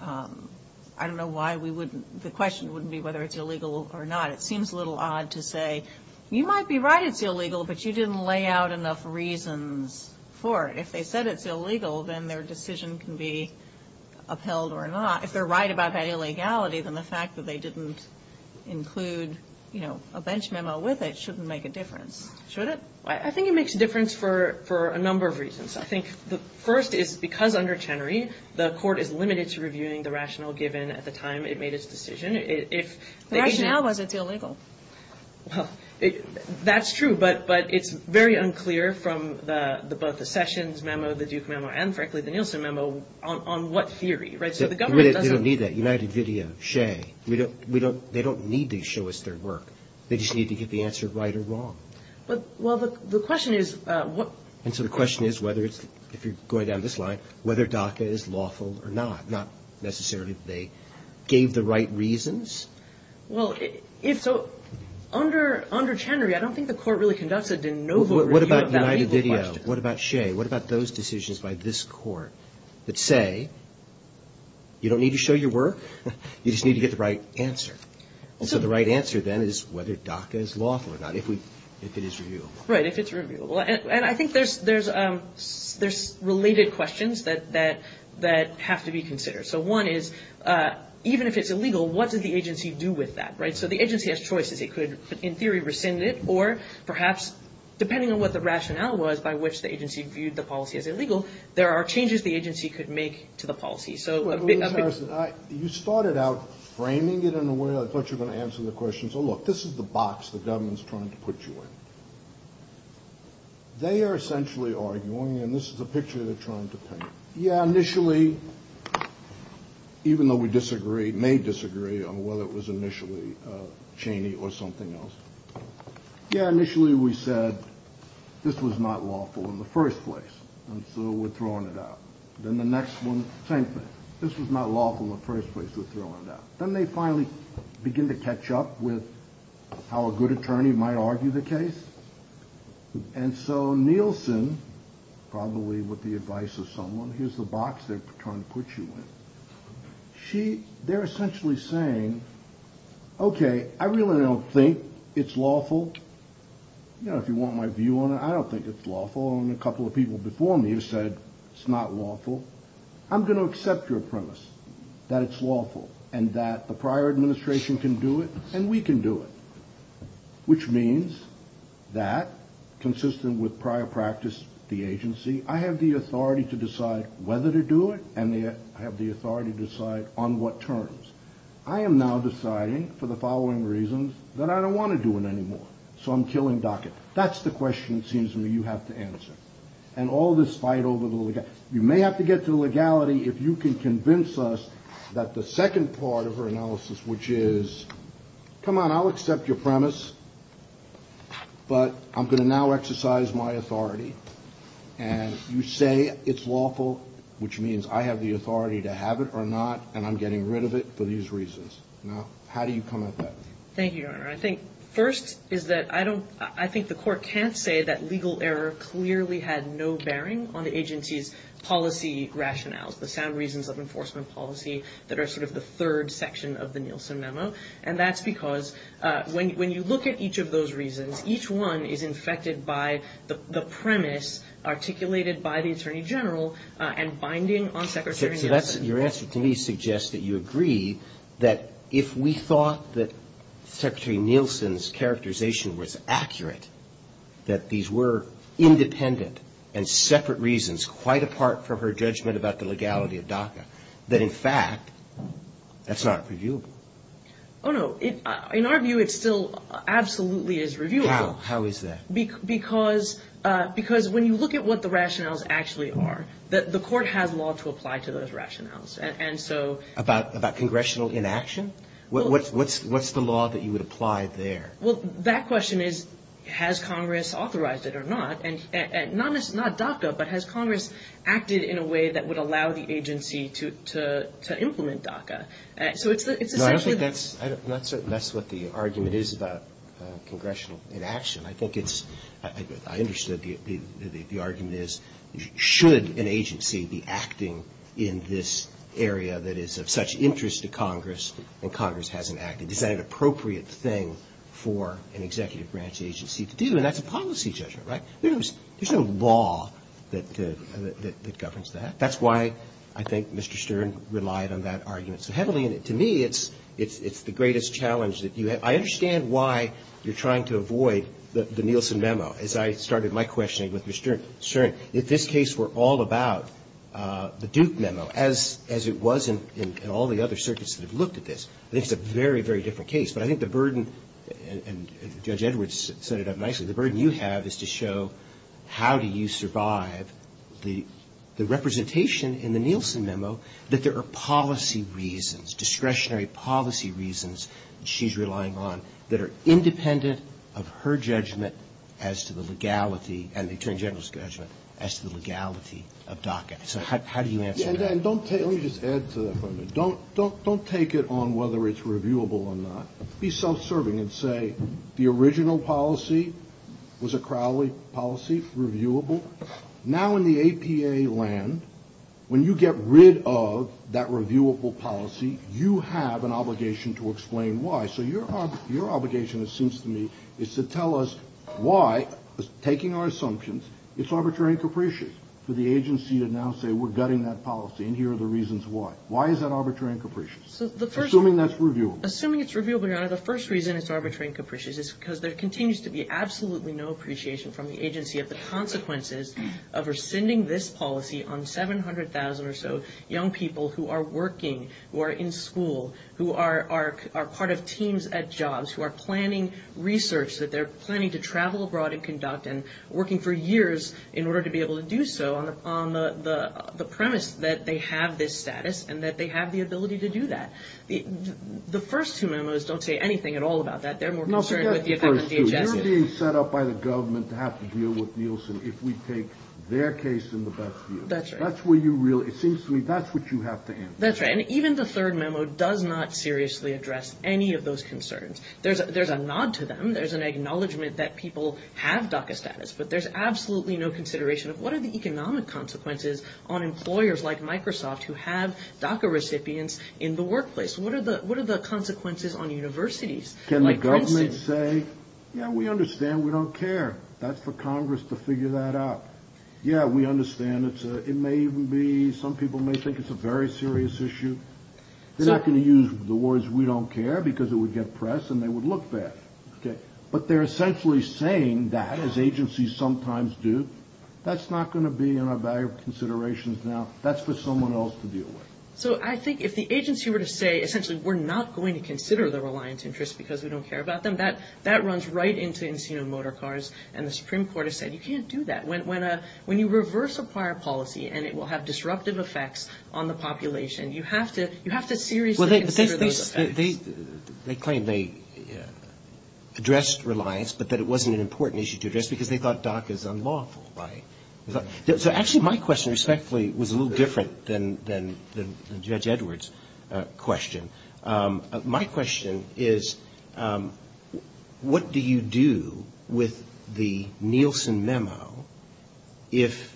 I don't know why we wouldn't- the question wouldn't be whether it's illegal or not. It seems a little odd to say, you might be right it's illegal, but you didn't lay out enough reasons for it. If they said it's illegal, then their decision can be upheld or not. If they're right about that illegality, then the fact that they didn't include, you know, a bench memo with it shouldn't make a difference. Should it? I think the first is because under Chenery, the court is limited to reviewing the rationale given at the time it made its decision. The rationale wasn't illegal. That's true, but it's very unclear from both the Sessions memo, the Duke memo, and frankly, the Nielsen memo, on what theory. They don't need that. United, Vidya, Shea. They don't need to show us their work. They just need to get the answer right or wrong. Well, the question is- And so the question is, if you're going down this line, whether DACA is lawful or not. Not necessarily if they gave the right reasons. Well, if so, under Chenery, I don't think the court really conducted a no vote review. What about United, Vidya? What about Shea? What about those decisions by this court that say, you don't need to show your work, you just need to get the right answer? And so the right answer then is whether DACA is lawful or not, if it is reviewable. Right, if it's reviewable. And I think there's related questions that have to be considered. So one is, even if it's illegal, what did the agency do with that? So the agency has choices. It could, in theory, rescind it, or perhaps, depending on what the rationale was by which the agency viewed the policy as illegal, there are changes the agency could make to the policy. You started out framing it in a way that I thought you were going to answer the question. So look, this is the box the government's trying to put you in. They are essentially arguing, and this is the picture they're trying to paint. Yeah, initially, even though we disagree, may disagree on whether it was initially Chenery or something else. Yeah, initially we said this was not lawful in the first place, and so we're throwing it out. Then the next one, same thing. This was not lawful in the first place, we're throwing it out. Then they finally begin to catch up with how a good attorney might argue the case. And so Nielsen, probably with the advice of someone, here's the box they're trying to put you in. They're essentially saying, okay, I really don't think it's lawful. You know, if you want my view on it, I don't think it's lawful. Only a couple of people before me have said it's not lawful. I'm going to accept your premise that it's lawful, and that the prior administration can do it, and we can do it. Which means that, consistent with prior practice, the agency, I have the authority to decide whether to do it, and I have the authority to decide on what terms. I am now deciding, for the following reasons, that I don't want to do it anymore. So I'm killing DACA. That's the question, it seems to me, you have to answer. And all this fight over the legality. You may have to get to the legality if you can convince us that the second part of her analysis, which is, come on, I'll accept your premise, but I'm going to now exercise my authority, and you say it's lawful, which means I have the authority to have it or not, and I'm getting rid of it for these reasons. Now, how do you come at that? Thank you, Your Honor. I think first is that I think the court can't say that legal error clearly had no bearing on the agency's policy rationales, the sound reasons of enforcement policy that are sort of the third section of the Nielsen memo, and that's because when you look at each of those reasons, each one is infected by the premise articulated by the Attorney General and binding on Secretary Nielsen. Your answer to me suggests that you agree that if we thought that Secretary Nielsen's characterization was accurate, that these were independent and separate reasons, quite apart from her judgment about the legality of DACA, that in fact, that's not reviewable. Oh, no. In our view, it still absolutely is reviewable. How is that? Because when you look at what the rationales actually are, the court has law to apply to those rationales. About congressional inaction? What's the law that you would apply there? Well, that question is, has Congress authorized it or not? Not DACA, but has Congress acted in a way that would allow the agency to implement DACA? No, I don't think that's what the argument is about congressional inaction. I think it's – I understand the argument is, should an agency be acting in this area that is of such interest to Congress, and Congress hasn't acted, is that an appropriate thing for an executive branch agency to do? And that's a policy judgment, right? There's no law that governs that. That's why I think Mr. Stern relied on that argument so heavily. To me, it's the greatest challenge that you have. I understand why you're trying to avoid the Nielsen memo, as I started my questioning with Mr. Stern. If this case were all about the Duke memo, as it was in all the other circuits that have looked at this, I think it's a very, very different case. But I think the burden – and Judge Edwards set it up nicely – the burden you have is to show how do you survive the representation in the Nielsen memo that there are policy reasons, discretionary policy reasons she's relying on, that are independent of her judgment as to the legality – and the Attorney General's judgment – as to the legality of DACA. So how do you answer that? Yeah, and don't – let me just add to that for a minute. Don't take it on whether it's reviewable or not. Be self-serving and say the original policy was a Crowley policy, reviewable. Now in the APA land, when you get rid of that reviewable policy, you have an obligation to explain why. So your obligation, it seems to me, is to tell us why, taking our assumptions, it's arbitrary and capricious for the agency to now say we're gutting that policy and here are the reasons why. Why is that arbitrary and capricious? Assuming that's reviewable. Assuming it's reviewable now, the first reason it's arbitrary and capricious is because there continues to be absolutely no appreciation from the agency of the consequences of rescinding this policy on 700,000 or so young people who are working, who are in school, who are part of teams at jobs, who are planning research that they're planning to travel abroad and conduct and working for years in order to be able to do so on the premise that they have this status and that they have the ability to do that. The first two memos don't say anything at all about that. They're more concerned about the effect on DHS. You're being set up by the government to have to deal with Nielsen if we take their case in the best view. That's right. It seems to me that's what you have to answer. That's right. And even the third memo does not seriously address any of those concerns. There's a nod to them. There's an acknowledgment that people have DACA status, but there's absolutely no consideration of what are the consequences on universities. Can the government say, yeah, we understand. We don't care. That's for Congress to figure that out. Yeah, we understand. It may even be some people may think it's a very serious issue. They're not going to use the words we don't care because it would get press and they would look bad. But they're essentially saying that, as agencies sometimes do, that's not going to be in our value considerations now. That's for someone else to deal with. So I think if the agency were to say essentially we're not going to consider the reliance interest because we don't care about them, that runs right into Encino Motor Cars and the Supreme Court has said you can't do that. When you reverse a prior policy and it will have disruptive effects on the population, you have to seriously consider those effects. They claim they addressed reliance, but that it wasn't an important issue to address because they thought DACA is unlawful. Actually, my question respectfully was a little different than Judge Edwards' question. My question is what do you do with the Nielsen Memo if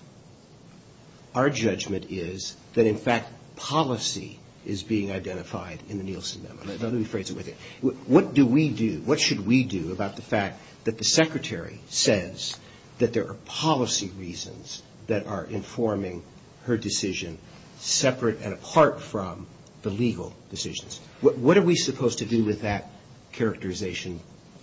our judgment is that in fact policy is being identified in the Nielsen Memo? What do we do? What should we do about the fact that the Secretary says that there are policy reasons that are informing her decision separate and apart from the legal decisions? What are we supposed to do with that characterization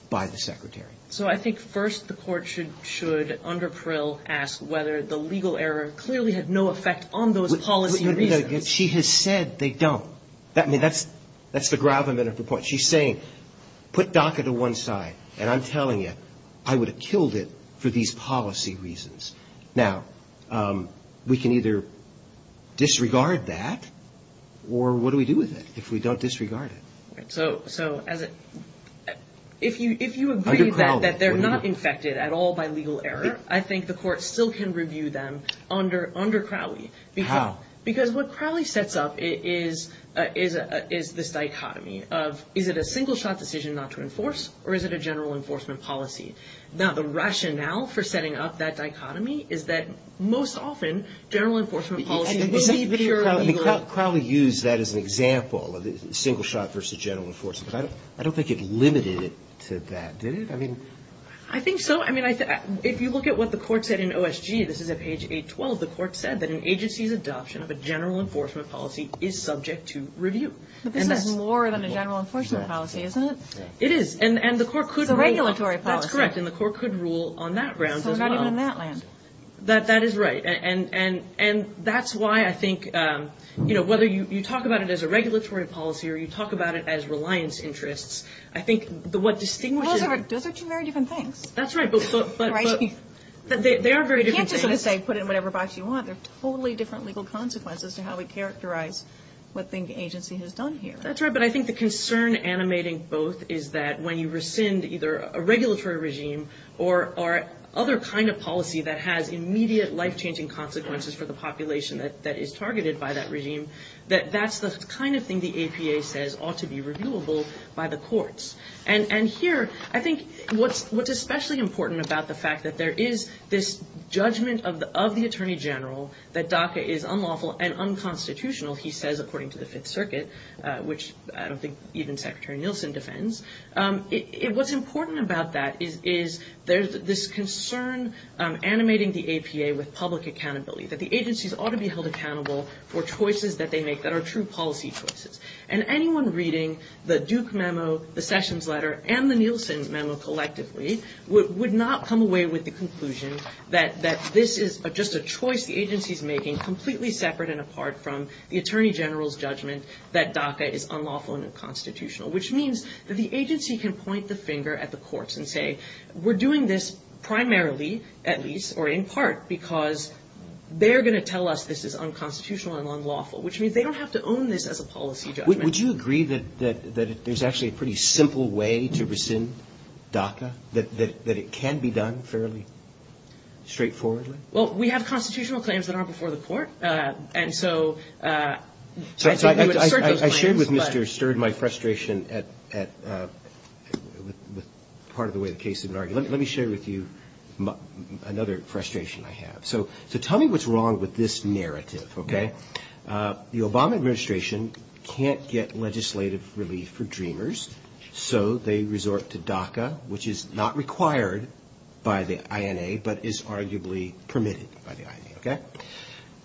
by the Secretary? So I think first the court should under Prill ask whether the legal error clearly had no effect on those policy reasons. She has said they don't. That's the gravamen of the point. She's saying put DACA to one side and I'm telling you I would have killed it for these policy reasons. Now, we can either disregard that or what do we do with it if we don't disregard it? So if you agree that they're not infected at all by legal error, I think the court still can review them under Crowley. How? Because what Crowley sets up is this dichotomy of is it a single-shot decision not to enforce or is it a general enforcement policy? Now, the rationale for setting up that dichotomy is that most often general enforcement policy will secure legal error. Crowley used that as an example of a single-shot versus general enforcement. I don't think it limited it to that, did it? I think so. If you look at what the court said in OSG, this is at page 812. The court said that an agency's adoption of a general enforcement policy is subject to review. I think that's more than a general enforcement policy, isn't it? It is. The regulatory policy. That's correct. And the court could rule on that grounds as well. That is right. And that's why I think whether you talk about it as a regulatory policy or you talk about it as reliance interests, I think what distinguishes... Those are two very different things. That's right. They are very different things. You can't just say put it in whatever box you want. There are totally different legal consequences to how we characterize what the agency has done here. That's right. But I think the concern animating both is that when you rescind either a regulatory regime or other kind of policy that has immediate life-changing consequences for the population that is targeted by that regime, that that's the kind of thing the APA says ought to be reviewable by the courts. And here, I think what's especially important about the fact that there is this judgment of the Attorney General that DACA is unlawful and unconstitutional, he says, according to the Fifth Circuit, which I don't think even Secretary Nielsen defends. What's important about that is there's this concern animating the APA with public accountability, that the agencies ought to be held accountable for choices that they make that are true policy choices. And anyone reading the Duke memo, the Sessions letter, and the Nielsen memo collectively would not come away with the conclusion that this is just a choice the agency is making completely separate and apart from the Attorney General's judgment that DACA is unlawful and unconstitutional, which means that the agency can point the finger at the courts and say, we're doing this primarily, at least, or in part, because they're going to tell us this is unconstitutional and unlawful, which means they don't have to own this as a policy judgment. Would you agree that there's actually a pretty simple way to rescind DACA, that it can be done fairly straightforwardly? Well, we have constitutional claims that aren't before the court, and so... I shared with Mr. Sturd my frustration at part of the way the case has been argued. Let me share with you another frustration I have. So tell me what's wrong with this narrative, okay? The Obama administration can't get legislative relief for DREAMers, so they resort to DACA, which is not required by the INA, but is arguably permitted by the INA, okay?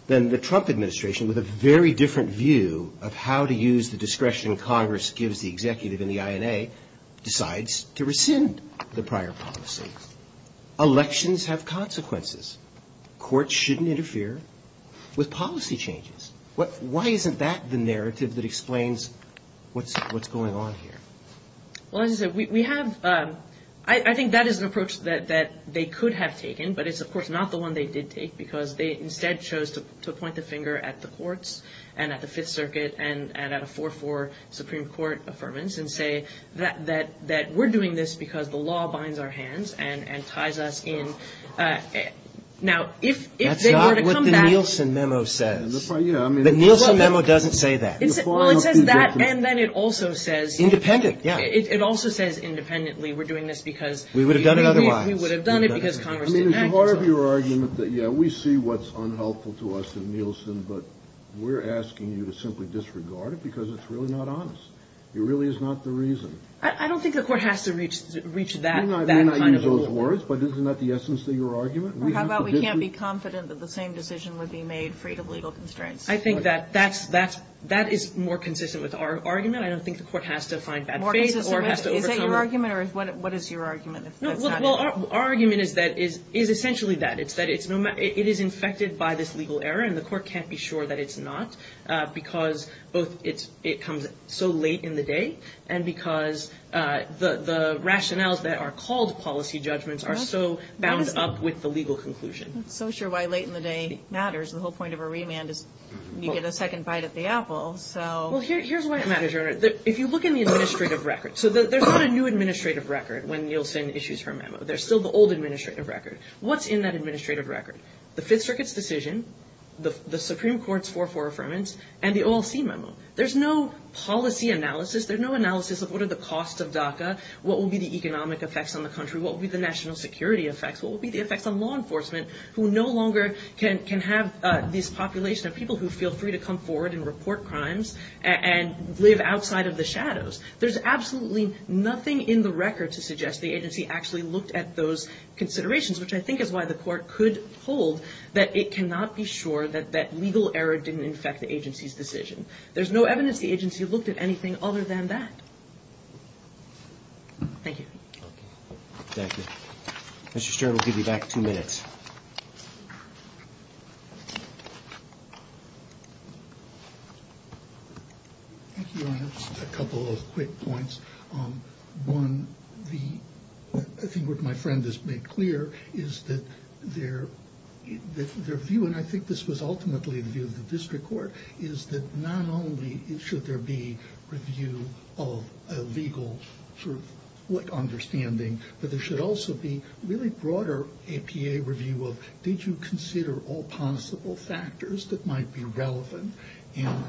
Then the Trump administration, with a very different view of how to use the discretion Congress gives the executive and the INA, decides to rescind the prior policy. Elections have consequences. Courts shouldn't interfere with policy changes. Why isn't that the narrative that explains what's going on here? Well, as I said, we have... I think that is an approach that they could have taken, but it's, of course, not the one they did take, because they instead chose to point the finger at the courts and at the Fifth Circuit and at a 4-4 Supreme Court affirmance and say that we're doing this because the law binds our hands and ties us in. Now, if they were to come back... That's not what the Nielsen memo says. The Nielsen memo doesn't say that. Well, it says that, and then it also says... Independent, yeah. It also says independently we're doing this because... We would have done it otherwise. We would have done it because Congress... I mean, it's part of your argument that, yeah, we see what's unhelpful to us in Nielsen, but we're asking you to simply disregard it because it's really not honest. It really is not the reason. I don't think the court has to reach that... I mean, I use those words, but isn't that the essence of your argument? How about we can't be confident that the same decision would be made free of legal constraints? I think that that is more consistent with our argument. I don't think the court has to find that faith or has to overcome... Is that your argument, or what is your argument? Well, our argument is essentially that. It is infected by this legal error, and the court can't be sure that it's not because it comes so late in the day and because the rationales that are called policy judgments are so bound up with the legal conclusion. I'm not so sure why late in the day matters. The whole point of a remand is you get a second bite at the apple, so... Well, here's why it matters. If you look in the administrative records, so there's not a new administrative record when Nielsen issues her memo. There's still the old administrative record. What's in that administrative record? The Fifth Circuit's decision, the Supreme Court's 4-4 affirmance, and the OLC memo. There's no policy analysis. There's no analysis of what are the costs of DACA, what will be the economic effects on the country, what will be the national security effects, what will be the effects on law enforcement, who no longer can have this population of people who feel free to come forward and report crimes and live outside of the shadows. There's absolutely nothing in the record to suggest the agency actually looked at those considerations, which I think is why the court could hold that it cannot be sure that that legal error didn't affect the agency's decision. There's no evidence the agency looked at anything other than that. Thank you. Thank you. Mr. Stern, we'll give you back two minutes. Thank you, Your Honor. Just a couple of quick points. One, I think what my friend has made clear is that their view, and I think this was ultimately the view of the district court, is that not only should there be a view of a legal sort of understanding, but there should also be really broader APA review of did you consider all possible factors that might be relevant, and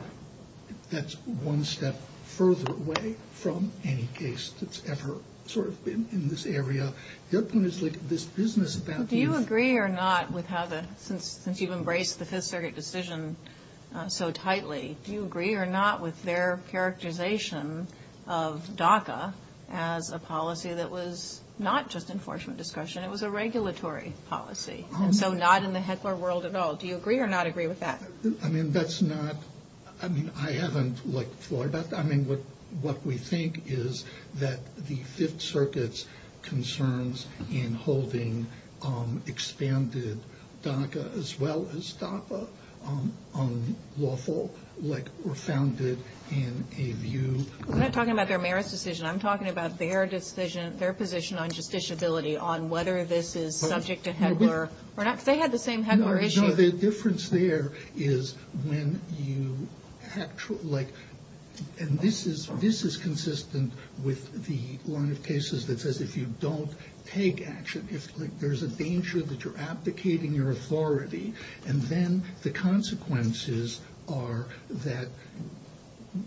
that's one step further away from any case that's ever sort of been in this area. Their point is like this business about... Do you agree or not with how the... Since you've embraced the Fifth Circuit decision so tightly, do you agree or not with their characterization of DACA as a policy that was not just enforcement discretion, it was a regulatory policy, and so not in the headquarter world at all. Do you agree or not agree with that? I mean, that's not... I mean, I haven't looked for that. I mean, what we think is that the Fifth Circuit's concerns in holding expanded DACA as well as DACA on lawful were founded in a view... I'm not talking about their merits decision. I'm talking about their decision, their position on justiciability, on whether this is subject to HEDLAR. They had the same HEDLAR issues. No, the difference there is when you... And this is consistent with one of the cases that says if you don't take action, if there's a danger that you're abdicating your authority, and then the consequences are that...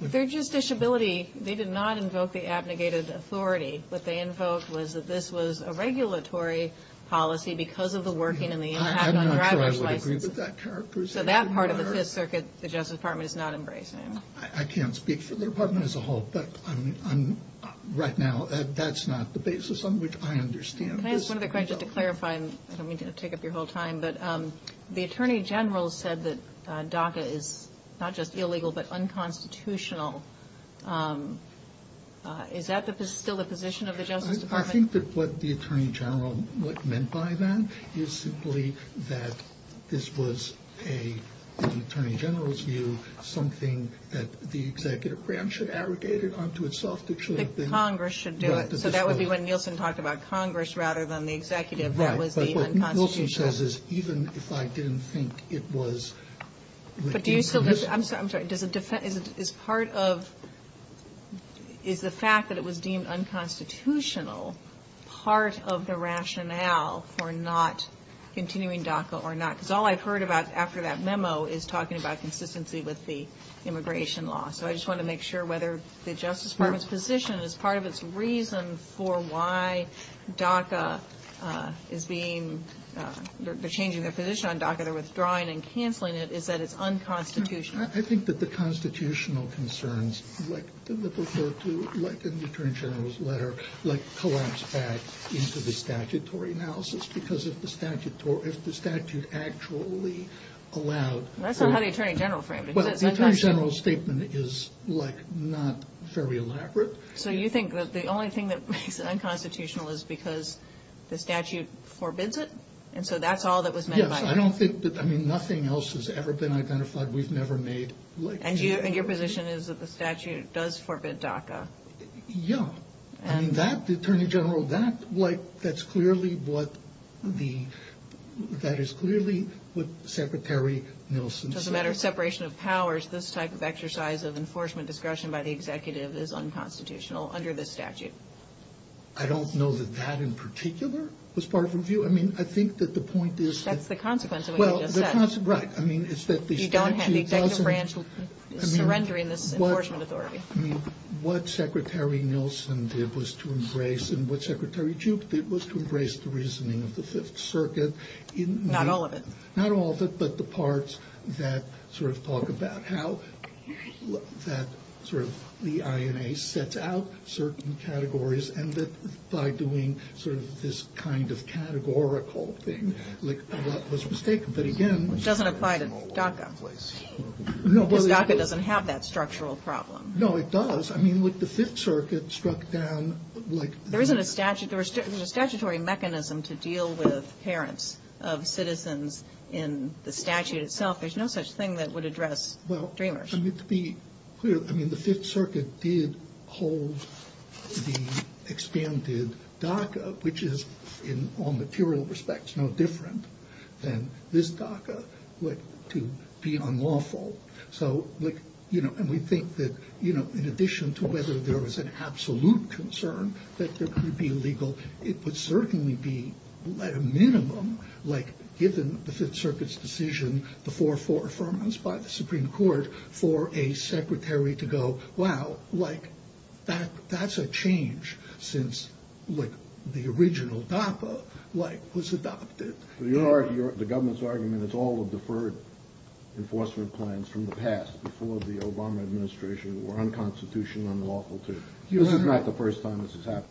Their justiciability, they did not invoke the abnegated authority. What they invoked was that this was a regulatory policy because of the working I don't know if I would agree with that characterization. So that part of the Fifth Circuit, the Justice Department is not embracing. I can't speak for the department as a whole, but right now, that's not the basis on which I understand this. I have some other questions to clarify. I don't mean to take up your whole time, but the Attorney General said that DACA is not just illegal but unconstitutional. Is that still the position of the Justice Department? I think that what the Attorney General meant by that is simply that this was, in the Attorney General's view, something that the executive branch had aggregated onto itself that should have been... That Congress should do it. So that would be when Nielsen talked about Congress rather than the executive. Right, but what Nielsen says is even if I didn't think it was... I'm sorry, is the fact that it was deemed unconstitutional part of the rationale for not continuing DACA or not? Because all I've heard about after that memo is talking about consistency with the immigration law. So I just want to make sure whether the Justice Department's position is part of its reasons for why DACA is being... They're changing their position on DACA, they're withdrawing and canceling it, is that it's unconstitutional. I think that the constitutional concerns, like in the Attorney General's letter, collapsed that into the statutory analysis because if the statute actually allowed... That's not how the Attorney General framed it. The Attorney General's statement is not very elaborate. So you think that the only thing that makes it unconstitutional is because the statute forbids it? And so that's all that was... I don't think that, I mean, nothing else has ever been identified. We've never made... And your position is that the statute does forbid DACA? Yeah. And that, the Attorney General, that's clearly what the... That is clearly what Secretary Nielsen said. As a matter of separation of powers, this type of exercise of enforcement discretion by the executive is unconstitutional under this statute. I don't know that that in particular was part of the view. I mean, I think that the point is... That's the consequence of what you just said. Well, the consequence, right. I mean, is that the statute doesn't... You don't have the executive branch surrendering this enforcement authority. I mean, what Secretary Nielsen did was to embrace, and what Secretary Jupe did was to embrace the reasoning of the Fifth Circuit in... Not all of it. Not all of it, but the parts that sort of talk about how that sort of, the INA sets out certain categories, and that by doing sort of this kind of categorical thing, that was mistaken. But again... Which doesn't apply to DACA, please. DACA doesn't have that structural problem. No, it does. I mean, what the Fifth Circuit struck down... There isn't a statutory mechanism to deal with parents of citizens in the statute itself. There's no such thing that would address Dreamers. I mean, the Fifth Circuit did hold the extended DACA, which is, in all material respects, no different than this DACA, to be unlawful. So, like, you know, and we think that, you know, in addition to whether there was an absolute concern that this would be illegal, it would certainly be, at a minimum, like, within the Fifth Circuit's decision before fore-affirmance by the Supreme Court for a secretary to go, wow, like, that's a change since, like, the original DACA, like, was adopted. The government's argument is all the deferred enforcement plans from the past before the Obama administration were unconstitutional and unlawful too. This is not the first time this has happened.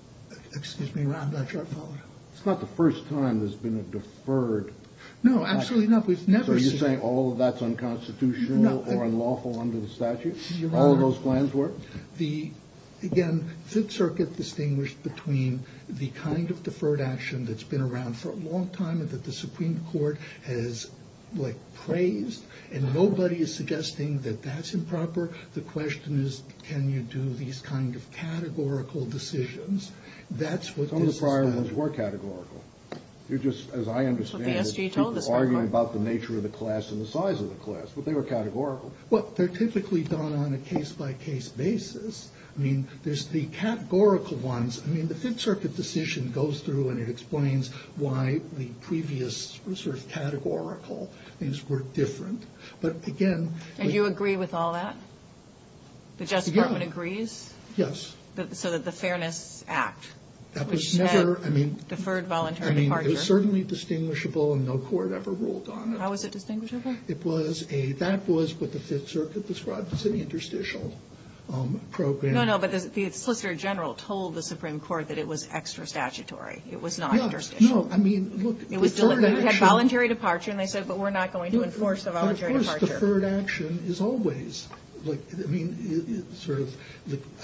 Excuse me, I'm not sure I follow. It's not the first time there's been a deferred... No, absolutely not. So you're saying all of that's unconstitutional or unlawful under the statute? All of those plans were? The, again, Fifth Circuit distinguished between the kind of deferred action that's been around for a long time and that the Supreme Court has, like, praised, and nobody is suggesting that that's improper. The question is, can you do these kind of categorical decisions? Some of the prior ones were categorical. They're just, as I understand it, people arguing about the nature of the class and the size of the class, but they were categorical. Well, they're typically done on a case-by-case basis. I mean, there's the categorical ones. I mean, the Fifth Circuit decision goes through and it explains why the previous sort of categorical things were different. But, again... And you agree with all that? The Justice Department agrees? Yes. So the Fairness Act. That was never... Deferred voluntary departure. I mean, it was certainly distinguishable and no court ever ruled on it. How was it distinguishable? It was a... That was what the Fifth Circuit described as an interstitial program. No, no, but the Solicitor General told the Supreme Court that it was extra-statutory. It was not interstitial. Yes. No, I mean, look, deferred action... It had voluntary departure, and they said, but we're not going to enforce the voluntary departure. The most deferred action is always... I mean, it's sort of...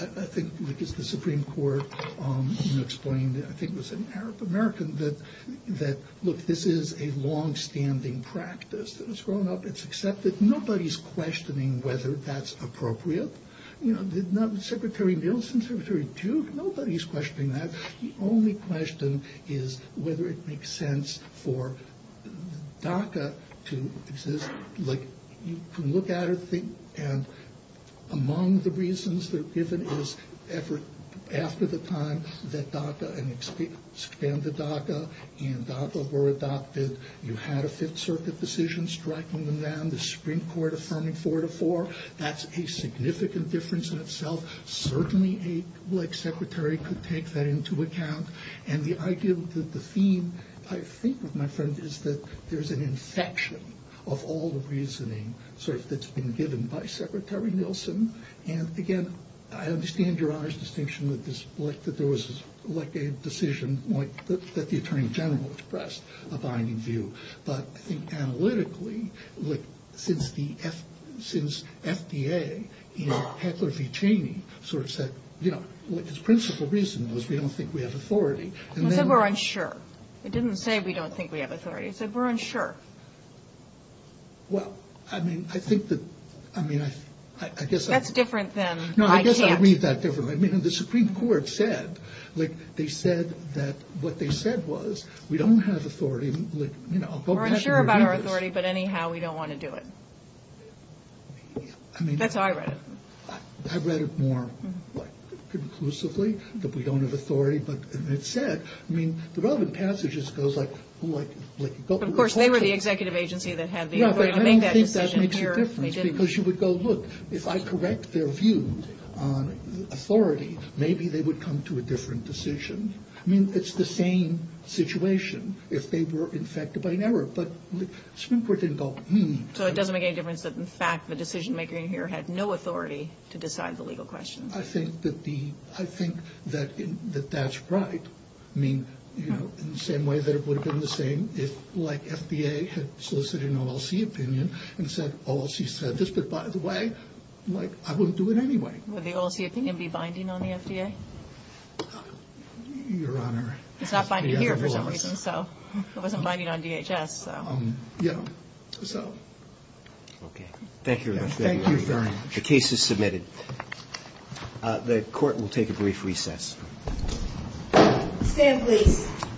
I think it's the Supreme Court who explained, I think it was an American, that, look, this is a long-standing practice. It's grown up, it's accepted. Nobody's questioning whether that's appropriate. Secretary Nielsen, Secretary Duke, nobody's questioning that. The only question is whether it makes sense for DACA to exist. Like, you can look at it and think, and among the reasons there isn't this effort after the time that DACA and expanded DACA and DACA were adopted, you had a Fifth Circuit decision striking them down, the Supreme Court affirming four to four. That's a significant difference in itself. Certainly a black secretary could take that into account, and the idea that the theme, I think, of my friend, is that there's an infection of all the reasoning that's been given by Secretary Nielsen, and, again, I understand Your Honor's distinction that there was a decision that the Attorney General expressed a binding view, but I think analytically, like, since FDA, you know, Heckler v. Cheney sort of said, you know, the principal reason was we don't think we have authority. They said we're unsure. It didn't say we don't think we have authority. It said we're unsure. Well, I mean, I think that, I mean, I guess I... That's different than I can't... No, I guess I read that differently. I mean, the Supreme Court said, like, they said that, like, what they said was we don't have authority. We're unsure about our authority, but anyhow, we don't want to do it. That's how I read it. I read it more conclusively, that we don't have authority, but it said, I mean, the relevant passage just goes like... Of course, they were the executive agency that had the authority to make that decision. Yeah, I don't think that makes a difference because you would go, look, if I correct their view on authority, maybe they would come to a different decision. I mean, it's the same situation if they were infected by an error, but the Supreme Court didn't go, hmm. So it doesn't make any difference, but in fact, the decision-maker in here had no authority to decide the legal question. I think that the... I think that that's right. I mean, you know, in the same way that it would have been the same if, like, FDA had solicited an OLC opinion and said, OLC said this, but by the way, like, I wouldn't do it anyway. Would the OLC opinion be binding on the FDA? Your Honor... It's not binding here for some reason, so... It wasn't binding on DHS, so... Yeah, so... Okay. Thank you, Your Honor. Thank you very much. The case is submitted. The Court will take a brief recess. Thank you.